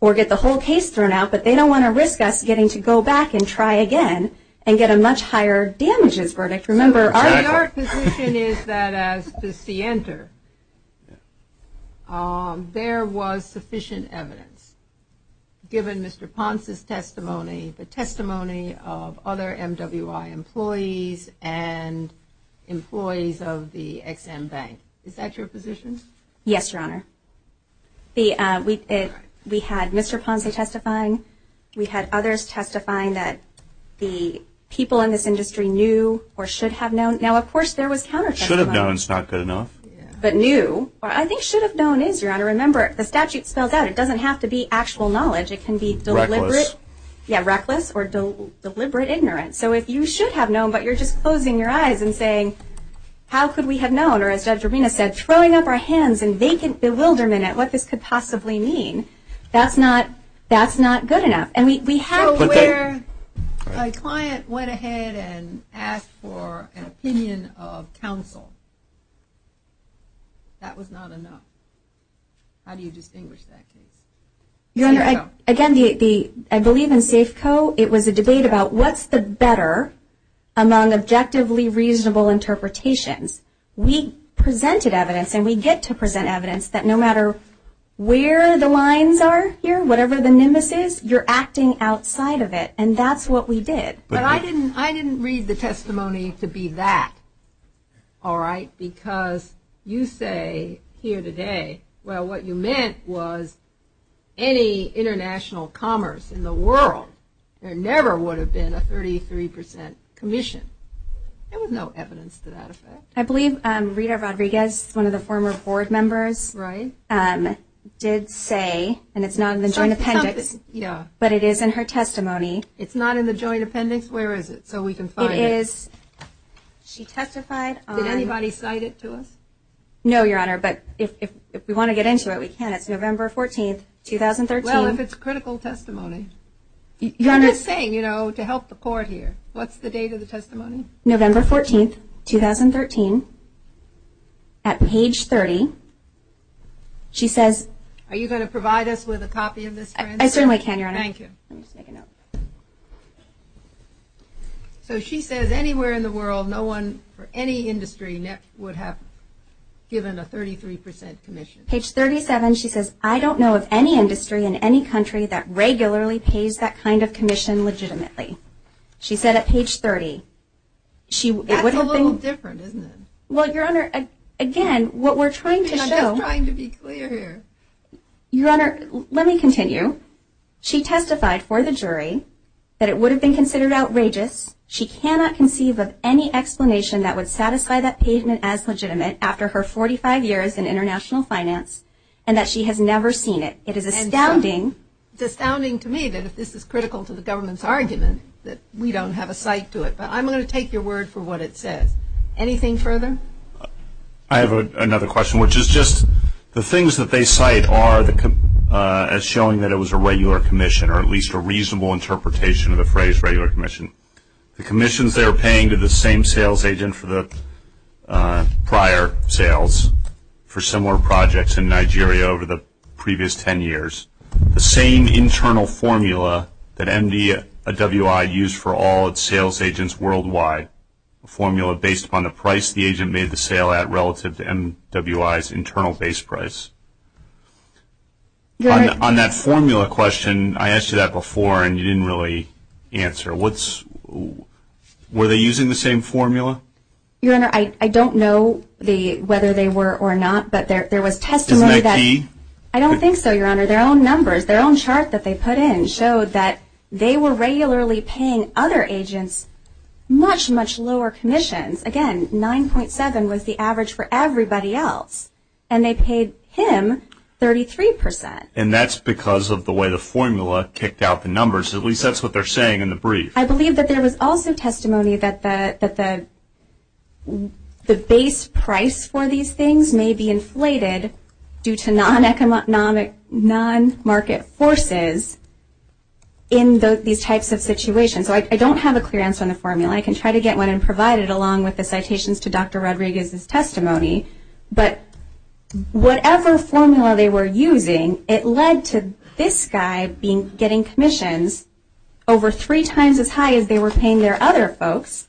or get the whole case thrown out, but they don't want to risk us getting to go back and try again and get a much higher damages verdict. Remember, our position is that as the scienter, there was sufficient evidence given Mr. Ponce's testimony, the testimony of other MWI employees and employees of the Ex-Im Bank. Is that your position? Yes, Your Honor. We had Mr. Ponce testifying. We had others testifying that the people in this industry knew or should have known. Now, of course, there was counter testimony. Should have known is not good enough. But knew. I think should have known is, Your Honor. Remember, the statute spells out. It doesn't have to be actual knowledge. It can be deliberate. Reckless. Yeah, reckless or deliberate ignorance. So if you should have known, but you're just closing your eyes and saying, how could we have known? Or as Judge Rubino said, throwing up our hands in vacant bewilderment at what this could possibly mean, that's not good enough. And we have where a client went ahead and asked for an opinion of counsel. That was not enough. How do you distinguish that? Your Honor, again, I believe in Safeco it was a debate about what's the better among objectively reasonable interpretations. We presented evidence and we get to present evidence that no matter where the lines are here, whatever the nemesis, you're acting outside of it. And that's what we did. But I didn't read the testimony to be that, all right? Because you say here today, well what you meant was any international commerce in the world, there never would have been a 33 percent commission. There was no evidence to that effect. I believe Rita Rodriguez, one of the former board members did say And it's not in the Joint Appendix. But it is in her testimony. It's not in the Joint Appendix? Where is it so we can find it? She testified on Did anybody cite it to us? No, Your Honor, but if we want to get into it, we can. It's November 14, 2013. Well, if it's critical testimony. Your Honor I'm just saying, you know, to help the court here. What's the date of the testimony? November 14, 2013, at page 30. She says I certainly can, Your Honor. Thank you. So she says anywhere in the world, no one for any industry would have given a 33 percent commission. Page 37, she says I don't know of any industry in any country that regularly pays that kind of commission legitimately. She said at page 30. That's a little different, isn't it? Well, Your Honor, again, what we're trying to show I'm just trying to be clear here. Your Honor, let me continue. She testified for the jury that it would have been considered outrageous. She cannot conceive of any explanation that would satisfy that payment as legitimate after her 45 years in international finance and that she has never seen it. It is astounding Astounding to me that if this is critical to the government's argument, that we don't have a cite to it. But I'm going to take your word for what it says. Anything further? I have another question, which is just the things that they cite are as showing that it was a regular commission or at least a reasonable interpretation of the phrase regular commission. The commissions they were paying to the same sales agent for the prior sales for similar projects in Nigeria over the previous ten years, the same internal formula that MDWI used for all its sales agents worldwide, a formula based upon the price the agent made the sale at relative to MWI's internal base price. On that formula question, I asked you that before and you didn't really answer. Were they using the same formula? Your Honor, I don't know whether they were or not, but there was testimony that Was that key? I don't think so, Your Honor. Their own chart that they put in showed that they were regularly paying other agents much, much lower commissions. Again, 9.7 was the average for everybody else and they paid him 33%. And that's because of the way the formula kicked out the numbers. At least that's what they're saying in the brief. I believe that there was also testimony that the base price for these things may be inflated due to non-economic, non-market forces in these types of situations. I don't have a clear answer on the formula. I can try to get one and provide it along with the citations to Dr. Rodriguez's testimony. But whatever formula they were using, it led to this guy getting commissions over three times as high as they were paying their other folks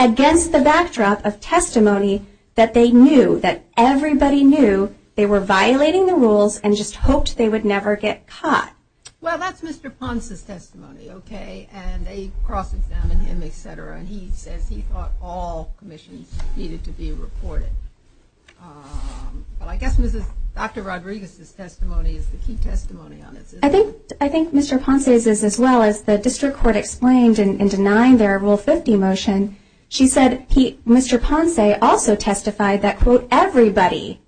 against the backdrop of testimony that they knew, that everybody knew they were violating the rules and just hoped they would never get caught. Well, that's Mr. Ponce's testimony, okay? And they cross-examined him, etc. And he said he thought all commissions needed to be reported. But I guess Dr. Rodriguez's testimony is the key testimony on this. I think Mr. Ponce's is as well. As the district court explained in denying their Rule 50 motion, she said Mr. Ponce also testified that, quote, everybody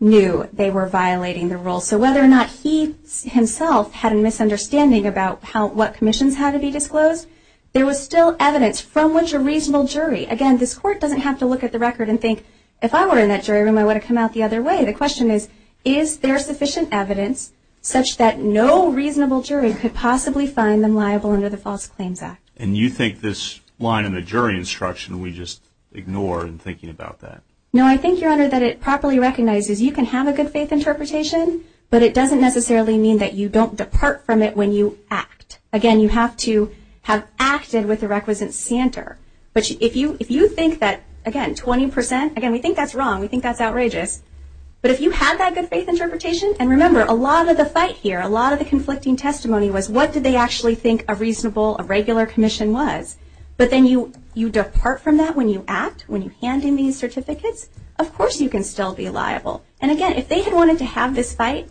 knew they were violating the rule. So whether or not he himself had a misunderstanding about what commissions had to be disclosed, there was still evidence from which a reasonable jury, again, this court doesn't have to look at the record and think, if I were in that jury room, I would have come out the other way. The question is, is there sufficient evidence such that no reasonable jury could possibly find them liable under the False Claims Act? And you think this line in the jury instruction we just ignore in thinking about that? No, I think, Your Honor, that it properly recognizes you can have a good-faith interpretation, but it doesn't necessarily mean that you don't depart from it when you act. Again, you have to have acted with the requisite standard. But if you think that, again, 20 percent, again, we think that's wrong. We think that's outrageous. But if you have that good-faith interpretation, and remember, a lot of the fight here, a lot of the conflicting testimony was, what did they actually think a reasonable, a regular commission was? But then you depart from that when you act, when you hand in these certificates, of course you can still be liable. And, again, if they had wanted to have this fight,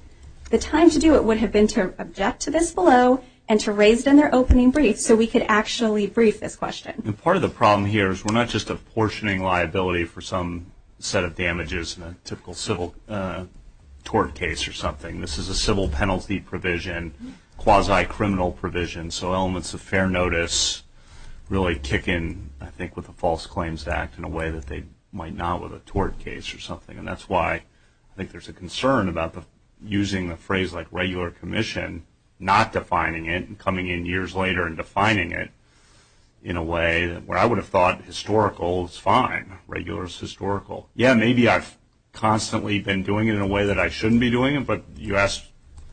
the time to do it would have been to object to this below and to raise in their opening brief so we could actually brief this question. And part of the problem here is we're not just apportioning liability for some set of damages in a typical civil tort case or something. This is a civil penalty provision, quasi-criminal provision, so elements of fair notice really kick in, I think, with a false claims act in a way that they might not with a tort case or something. And that's why I think there's a concern about using a phrase like regular commission, not defining it and coming in years later and defining it in a way where I would have thought historical is fine, regular is historical. Yeah, maybe I've constantly been doing it in a way that I shouldn't be doing it, but you asked,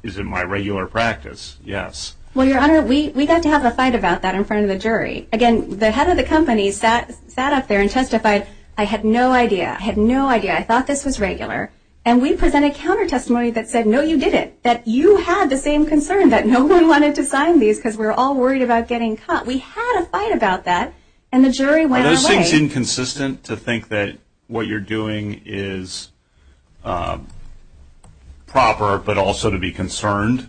is it my regular practice? Yes. Well, Your Honor, we got to have a fight about that in front of a jury. Again, the head of the company sat up there and testified, I had no idea. I had no idea. I thought this was regular. And we presented counter-testimonies that said, no, you didn't, that you had the same concern that no one wanted to sign these because we're all worried about getting caught. We had a fight about that, and the jury went away. Is this inconsistent to think that what you're doing is proper but also to be concerned?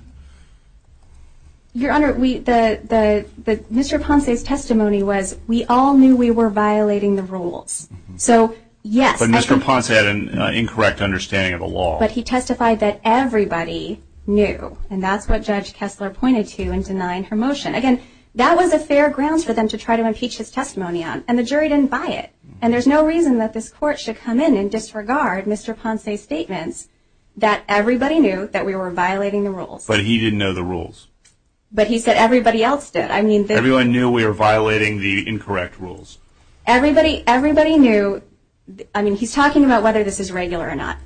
Your Honor, Mr. Ponce's testimony was, we all knew we were violating the rules. But Mr. Ponce had an incorrect understanding of the law. But he testified that everybody knew, and that's what Judge Kessler pointed to in denying her motion. Again, that was a fair ground for them to try to impeach his testimony on, and the jury didn't buy it. And there's no reason that this court should come in and disregard Mr. Ponce's statement that everybody knew that we were violating the rules. But he didn't know the rules. But he said everybody else did. Everyone knew we were violating the incorrect rules. Everybody knew. I mean, he's talking about whether this is regular or not.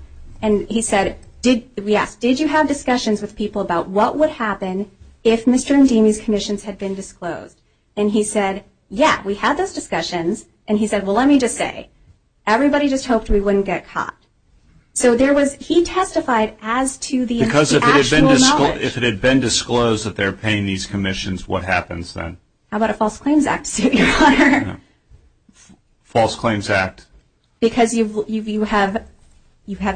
And he said, yes, did you have discussions with people about what would happen if Mr. Ndimi's commissions had been disclosed? And he said, yeah, we had those discussions. And he said, well, let me just say, everybody just hoped we wouldn't get caught. So he testified as to the actual knowledge. Because if it had been disclosed that they were paying these commissions, what happens then? How about a False Claims Act, Your Honor? False Claims Act. Because you have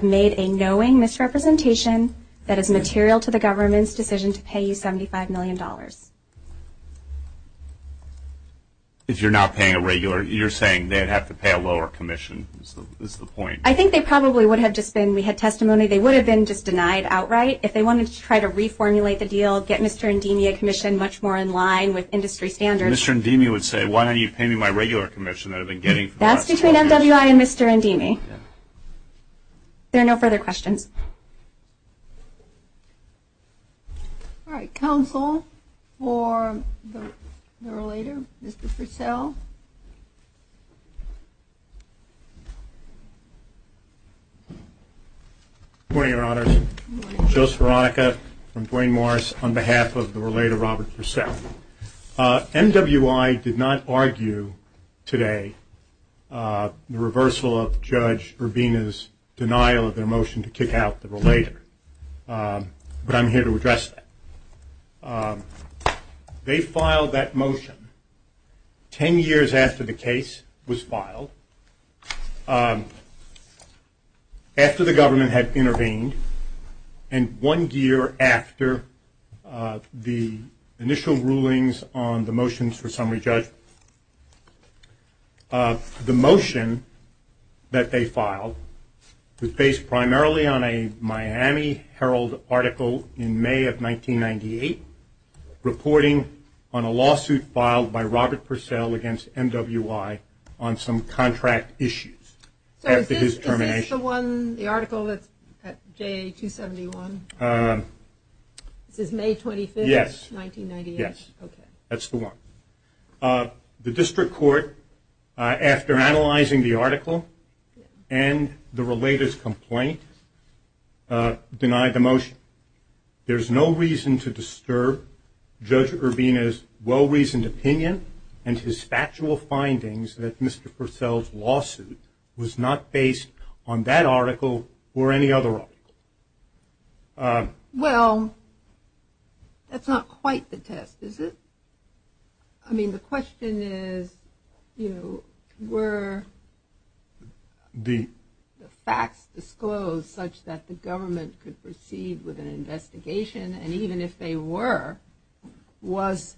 made a knowing misrepresentation that is material to the government's decision to pay you $75 million. If you're not paying a regular, you're saying they'd have to pay a lower commission. That's the point. I think they probably would have just been, we had testimony, they would have been just denied outright. If they wanted to try to reformulate the deal, get Mr. Ndimi a commission much more in line with industry standards. Mr. Ndimi would say, why don't you pay me my regular commission? That's between FWI and Mr. Ndimi. There are no further questions. All right. Counsel for the relator, Mr. Purcell. Good morning, Your Honors. Joseph Veronica from Duane Morris on behalf of the relator, Robert Purcell. MWI did not argue today the reversal of Judge Urbina's denial of their motion to kick out the relator, but I'm here to address that. They filed that motion ten years after the case was filed, after the government had intervened, and one year after the initial rulings on the motions for summary judge. The motion that they filed was based primarily on a Miami Herald article in May of 1998, reporting on a lawsuit filed by Robert Purcell against MWI on some contract issues after his termination. Is that the official one, the article that's at J271? This is May 25th, 1998? Yes. Okay. That's the one. The district court, after analyzing the article and the relator's complaint, denied the motion. There's no reason to disturb Judge Urbina's well-reasoned opinion and his factual findings that Mr. Purcell's lawsuit was not based on that article or any other article. Well, that's not quite the test, is it? I mean, the question is, you know, were the facts disclosed such that the government could proceed with an investigation, and even if they were, was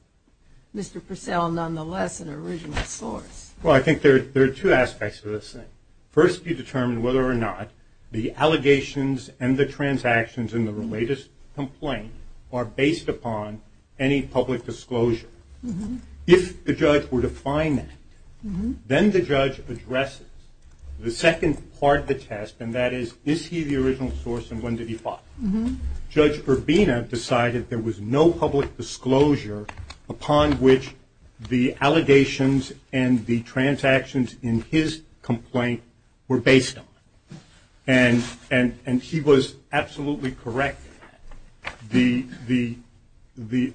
Mr. Purcell nonetheless an original source? Well, I think there are two aspects to this. First, you determine whether or not the allegations and the transactions in the relator's complaint are based upon any public disclosure. If the judge were to find that, then the judge addresses the second part of the test, and that is, is he the original source and when did he file it? Judge Urbina decided there was no public disclosure upon which the allegations and the transactions in his complaint were based on, and he was absolutely correct. The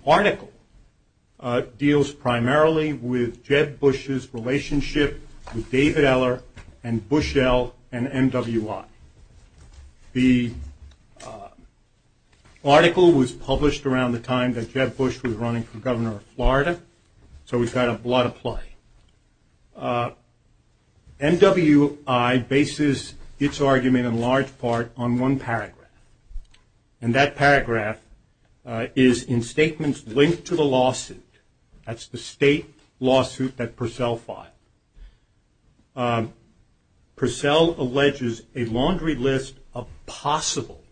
article deals primarily with Jeb Bush's relationship with David Eller and Bushell and MW Lott. The article was published around the time that Jeb Bush was running for governor of Florida, so we've had a lot of play. MW Lott bases its argument in large part on one paragraph, and that paragraph is in statements linked to the lawsuit. That's the state lawsuit that Purcell filed. Purcell alleges a laundry list of possible,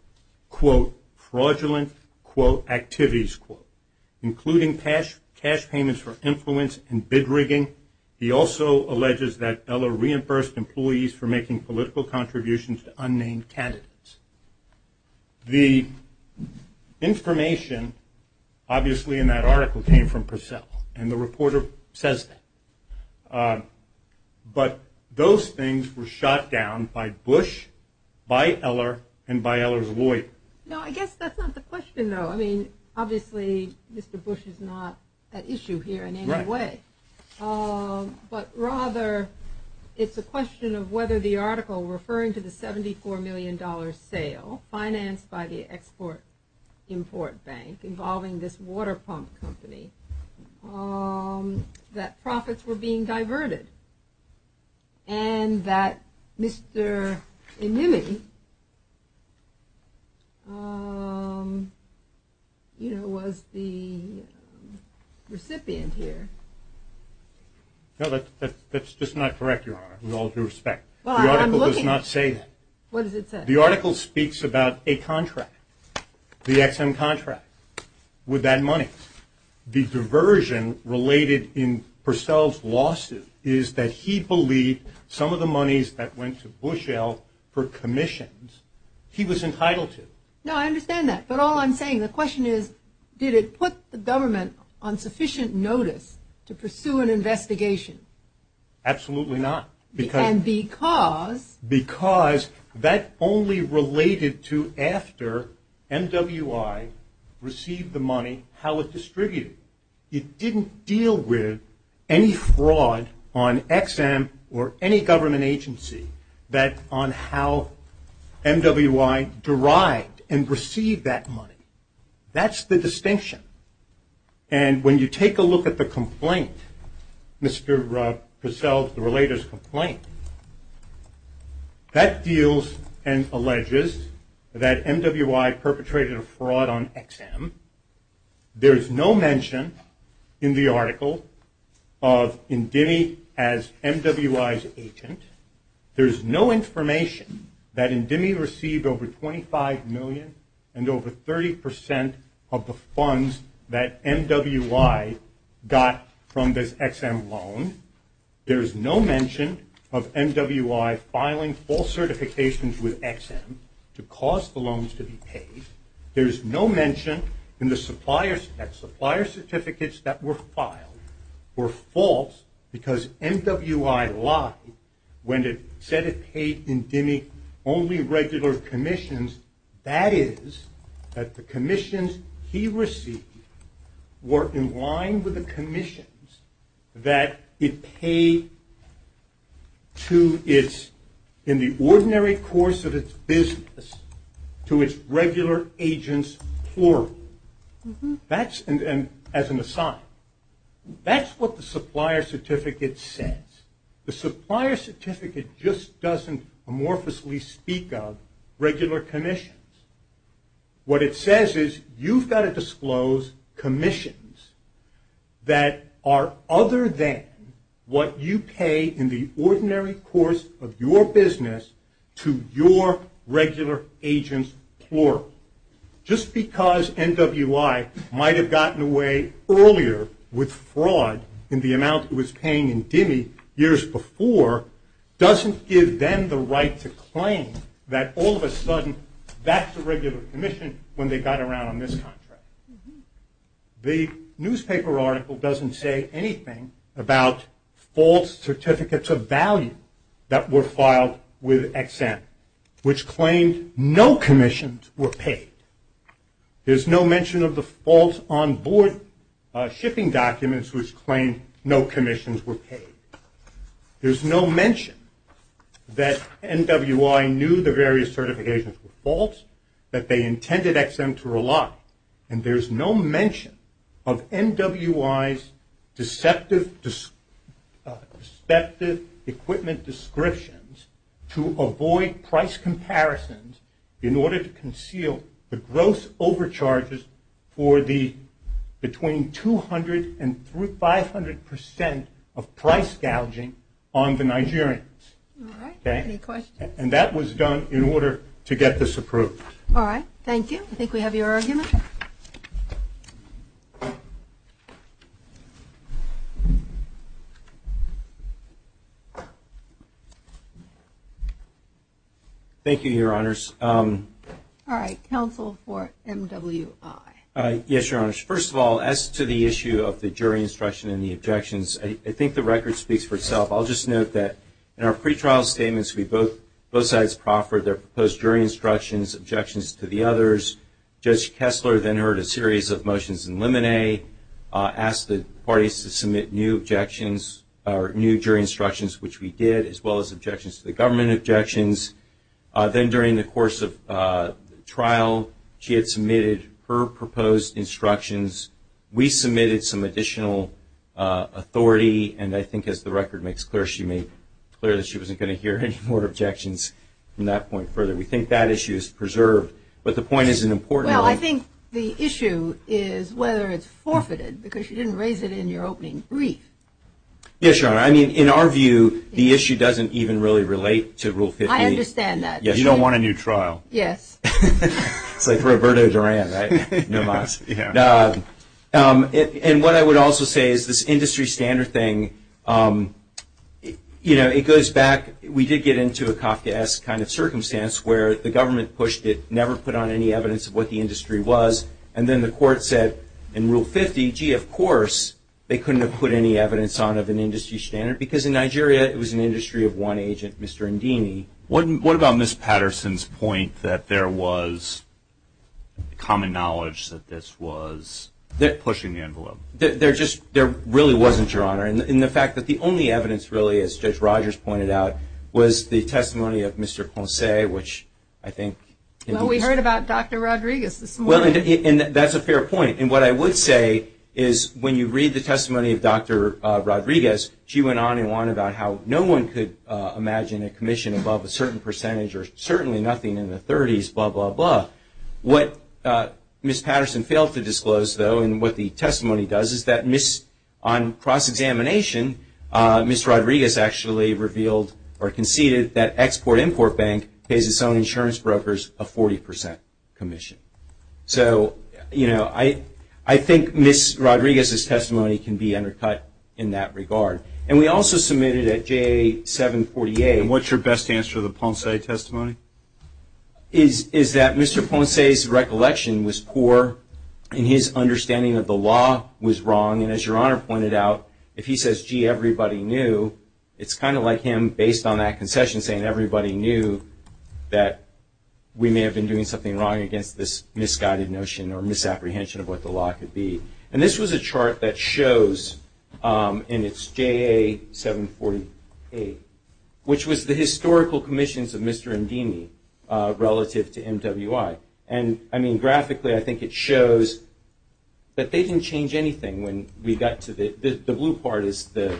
quote, fraudulent, quote, activities, quote, including cash payments for influence and bid rigging. He also alleges that Eller reimbursed employees for making political contributions to unnamed candidates. The information, obviously, in that article came from Purcell, and the reporter says that. But those things were shot down by Bush, by Eller, and by Eller's lawyer. No, I guess that's not the question, though. I mean, obviously, Mr. Bush is not at issue here in any way. But rather, it's a question of whether the article referring to the $74 million sale, financed by the Export-Import Bank involving this water pump company, that profits were being diverted, and that Mr. Inouye, you know, was the recipient here. No, that's just not correct, Your Honor, with all due respect. The article does not say that. What does it say? The article speaks about a contract, the Ex-Im contract, with that money. The diversion related in Purcell's losses is that he believed some of the monies that went to Bushell for commissions, he was entitled to. No, I understand that. But all I'm saying, the question is, did it put the government on sufficient notice to pursue an investigation? Absolutely not. And because? Because that only related to after MWI received the money, how it was distributed. It didn't deal with any fraud on Ex-Im or any government agency on how MWI derived and received that money. That's the distinction. And when you take a look at the complaint, Mr. Purcell's related complaint, that deals and alleges that MWI perpetrated a fraud on Ex-Im. There's no mention in the article of Indemi as MWI's agent. There's no information that Indemi received over $25 million and over 30% of the funds that MWI got from this Ex-Im loan. There's no mention of MWI filing false certifications with Ex-Im to cause the loans to be paid. There's no mention in the supplier's text. Supplier certificates that were filed were false because MWI lied when it said it paid Indemi only regular commissions. That is, that the commissions he received were in line with the commissions that it paid to its, in the ordinary course of its business, to its regular agents formally. That's, and as an aside, that's what the supplier certificate says. The supplier certificate just doesn't amorphously speak of regular commissions. What it says is you've got to disclose commissions that are other than what you pay in the ordinary course of your business to your regular agents plural. Just because MWI might have gotten away earlier with fraud than the amount it was paying Indemi years before, doesn't give them the right to claim that all of a sudden that's a regular commission when they got around this contract. The newspaper article doesn't say anything about false certificates of value that were filed with Ex-Im, which claimed no commissions were paid. There's no mention of the false onboard shipping documents which claimed no commissions were paid. There's no mention that MWI knew the various certifications were false, that they intended Ex-Im to rely. And there's no mention of MWI's deceptive equipment descriptions to avoid price comparisons in order to conceal the gross overcharges for the, between 200 and 500% of price gouging on the Nigerians. And that was done in order to get this approved. All right. Thank you. I think we have your argument. Thank you, Your Honors. All right. Counsel for MWI. Yes, Your Honors. First of all, as to the issue of the jury instruction and the objections, I think the record speaks for itself. I'll just note that in our pretrial statements, we both, both sides proffered their proposed jury instructions, objections to the others. Judge Kessler then heard a series of motions in limine, asked the parties to submit new objections, or new jury instructions, which we did, as well as objections to the government objections. Then during the course of trial, she had submitted her proposed instructions. We submitted some additional authority, and I think as the record makes clear, she made clear that she wasn't going to hear any more objections from that point forward. We think that issue is preserved, but the point is an important one. Well, I think the issue is whether it's forfeited, because you didn't raise it in your opening brief. Yes, Your Honor. I mean, in our view, the issue doesn't even really relate to Rule 15. I understand that. You don't want a new trial. Yes. It's like Roberto Duran, right? No, Your Honor. And what I would also say is this industry standard thing, you know, it goes back, we did get into a Kafkaesque kind of circumstance where the government pushed it, never put on any evidence of what the industry was, and then the court said in Rule 50, gee, of course, they couldn't have put any evidence on of an industry standard, because in Nigeria, it was an industry of one agent, Mr. Ndini. What about Ms. Patterson's point that there was common knowledge that this was pushing the envelope? There just really wasn't, Your Honor. And the fact that the only evidence really, as Judge Rogers pointed out, was the testimony of Mr. Ponce, which I think... Well, we heard about Dr. Rodriguez this morning. And that's a fair point. And what I would say is when you read the testimony of Dr. Rodriguez, she went on and on about how no one could imagine a commission above a certain percentage or certainly nothing in the 30s, blah, blah, blah. What Ms. Patterson failed to disclose, though, and what the testimony does is that on cross-examination, Ms. Rodriguez actually revealed or conceded that Export-Import Bank pays its own insurance brokers a 40% commission. So, you know, I think Ms. Rodriguez's testimony can be undercut in that regard. And we also submitted at J748... And what's your best answer to the Ponce testimony? Is that Mr. Ponce's recollection was poor in his understanding that the law was wrong. And as Your Honor pointed out, if he says, gee, everybody knew, it's kind of like him, based on that concession, saying everybody knew that we may have been doing something wrong against this misguided notion or misapprehension of what the law could be. And this was a chart that shows in its JA748, which was the historical commissions of Mr. Indini relative to MWI. And, I mean, graphically, I think it shows that they didn't change anything when we got to the... The blue part is the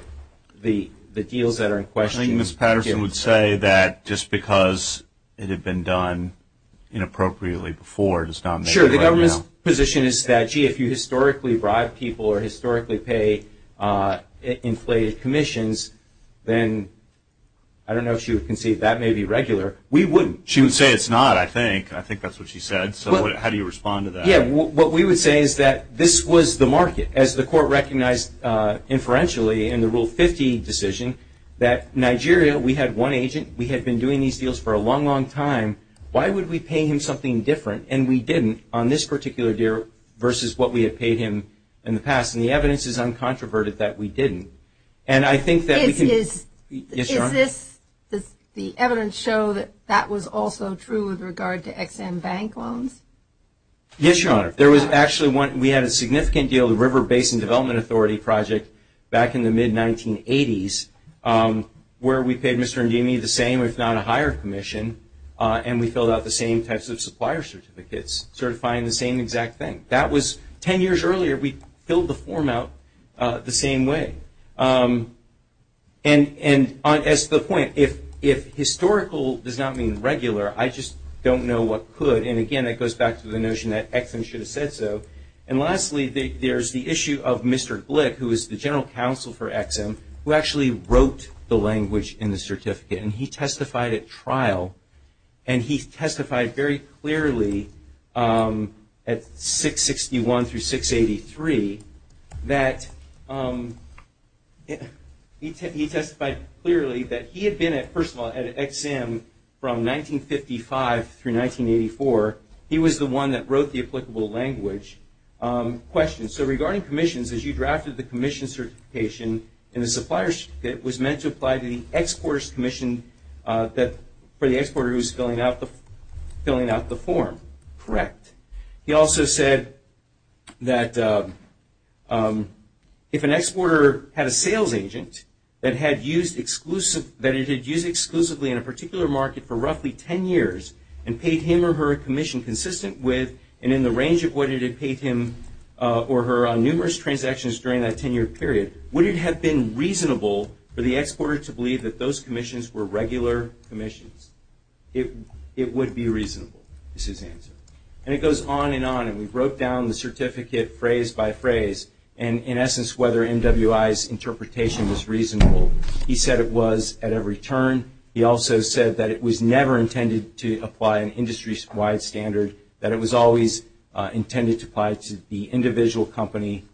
deals that are in question. And I think Ms. Patterson would say that just because it had been done inappropriately before... Sure, the government's position is that, gee, if you historically bribe people or historically pay inflated commissions, then I don't know if she would concede that may be regular. We wouldn't. She would say it's not, I think. I think that's what she said. So how do you respond to that? Yeah, what we would say is that this was the market. As the court recognized inferentially in the Rule 50 decision, that Nigeria, we had one agent. We had been doing these deals for a long, long time. Why would we pay him something different? And we didn't on this particular deal versus what we had paid him in the past. And the evidence is uncontroverted that we didn't. And I think that we can... Is this... Yes, Your Honor. Does the evidence show that that was also true with regard to EXIM bank loans? Yes, Your Honor. There was actually one. We had a significant deal, the River Basin Development Authority project, back in the mid-1980s, where we paid Mr. Ndimi the same, if not a higher commission, and we filled out the same types of supplier certificates, certifying the same exact thing. That was 10 years earlier. We filled the form out the same way. And as to the point, if historical does not mean regular, I just don't know what could. And again, that goes back to the notion that EXIM should have said so. And lastly, there's the issue of Mr. Glick, who is the general counsel for EXIM, who actually wrote the language in the certificate. And he testified at trial. And he testified very clearly at 661 through 683 that... He testified clearly that he had been, first of all, at EXIM from 1955 through 1984. He was the one that wrote the applicable language. Question. So regarding commissions, as you drafted the commission certification, and the supplier certificate was meant to apply to the exporter's commission for the exporter who was filling out the form. Correct. Correct. He also said that if an exporter had a sales agent that it had used exclusively in a particular market for roughly 10 years and paid him or her a commission consistent with and in the range of what it had paid him or her on numerous transactions during that 10-year period, would it have been reasonable for the exporter to believe that those commissions were regular commissions? It would be reasonable is his answer. And it goes on and on. And we wrote down the certificate phrase by phrase. And, in essence, whether NWI's interpretation was reasonable. He said it was at every turn. He also said that it was never intended to apply an industry-wide standard, that it was always intended to apply to the individual company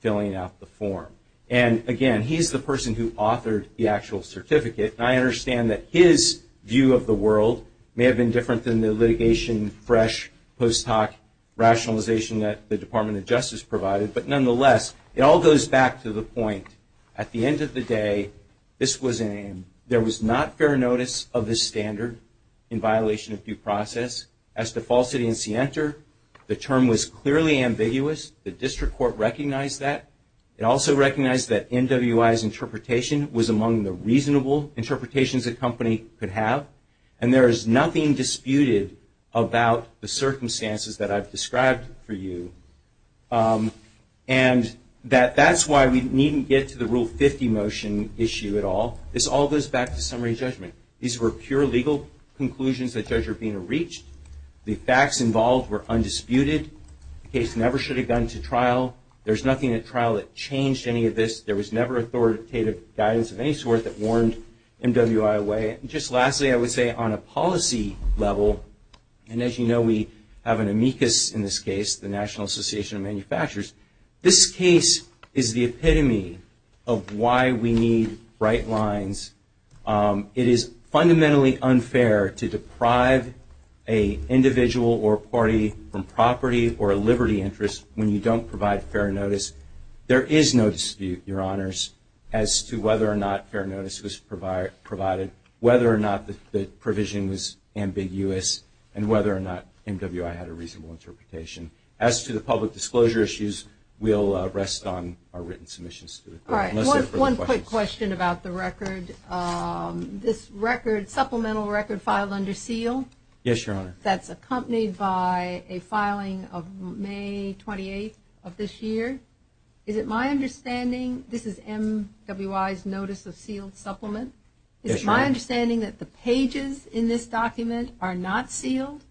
filling out the form. And, again, he's the person who authored the actual certificate. And I understand that his view of the world may have been different than the litigation, fresh post-hoc rationalization that the Department of Justice provided. But, nonetheless, it all goes back to the point. At the end of the day, this was in. There was not fair notice of this standard in violation of due process. As defaulted as he entered, the term was clearly ambiguous. The district court recognized that. It also recognized that NWI's interpretation was among the reasonable interpretations the company could have. And there is nothing disputed about the circumstances that I've described for you. And that's why we needn't get to the Rule 50 motion issue at all. This all goes back to summary judgment. These were pure legal conclusions that judges were being reached. The facts involved were undisputed. The case never should have gone to trial. There's nothing at trial that changed any of this. There was never authoritative guidance of any sort that warned NWI away. Just lastly, I would say on a policy level, and, as you know, we have an amicus in this case, the National Association of Manufacturers, this case is the epitome of why we need bright lines. It is fundamentally unfair to deprive an individual or a party from property or a liberty interest when you don't provide fair notice. There is no dispute, Your Honors, as to whether or not fair notice was provided, whether or not the provision was ambiguous, and whether or not NWI had a reasonable interpretation. As to the public disclosure issues, we'll rest on our written submissions. All right. One quick question about the record. This supplemental record filed under seal? Yes, Your Honor. That's accompanied by a filing of May 28th of this year. Is it my understanding, this is NWI's notice of sealed supplement. Yes, Your Honor. Is it my understanding that the pages in this document are not sealed?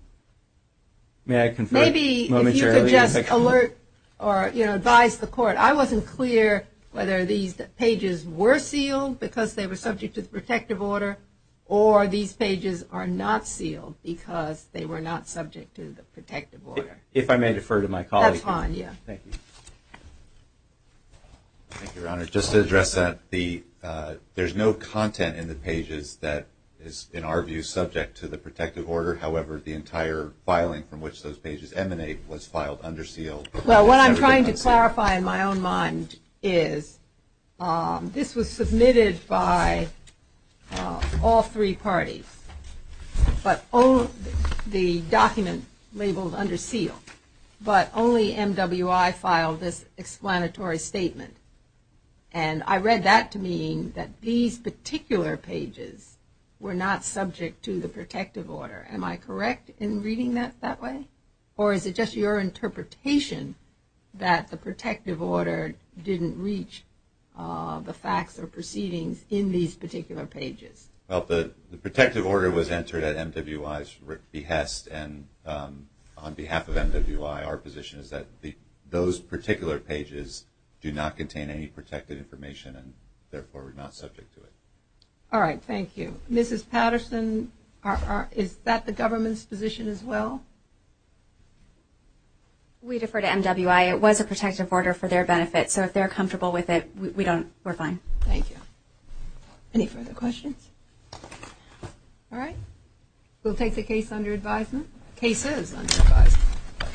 May I confess momentarily? Maybe if you could just alert or, you know, advise the court. I wasn't clear whether these pages were sealed because they were subject to protective order or these pages are not sealed because they were not subject to the protective order. If I may defer to my colleague. That's fine, yes. Thank you. Thank you, Your Honor. Just to address that, there's no content in the pages that is, in our view, subject to the protective order. However, the entire filing from which those pages emanate was filed under seal. So what I'm trying to clarify in my own mind is this was submitted by all three parties. But the document labeled under seal. But only NWI filed this explanatory statement. And I read that to mean that these particular pages were not subject to the protective order. Am I correct in reading that that way? Or is it just your interpretation that the protective order didn't reach the facts or proceedings in these particular pages? Well, the protective order was entered at NWI's behest. And on behalf of NWI, our position is that those particular pages do not contain any protected information and, therefore, we're not subject to it. All right. Thank you. Mrs. Patterson, is that the government's position as well? We defer to NWI. It was a protective order for their benefit. So if they're comfortable with it, we're fine. Thank you. Any further questions? All right. We'll take the case under advisement. Case is under advisement.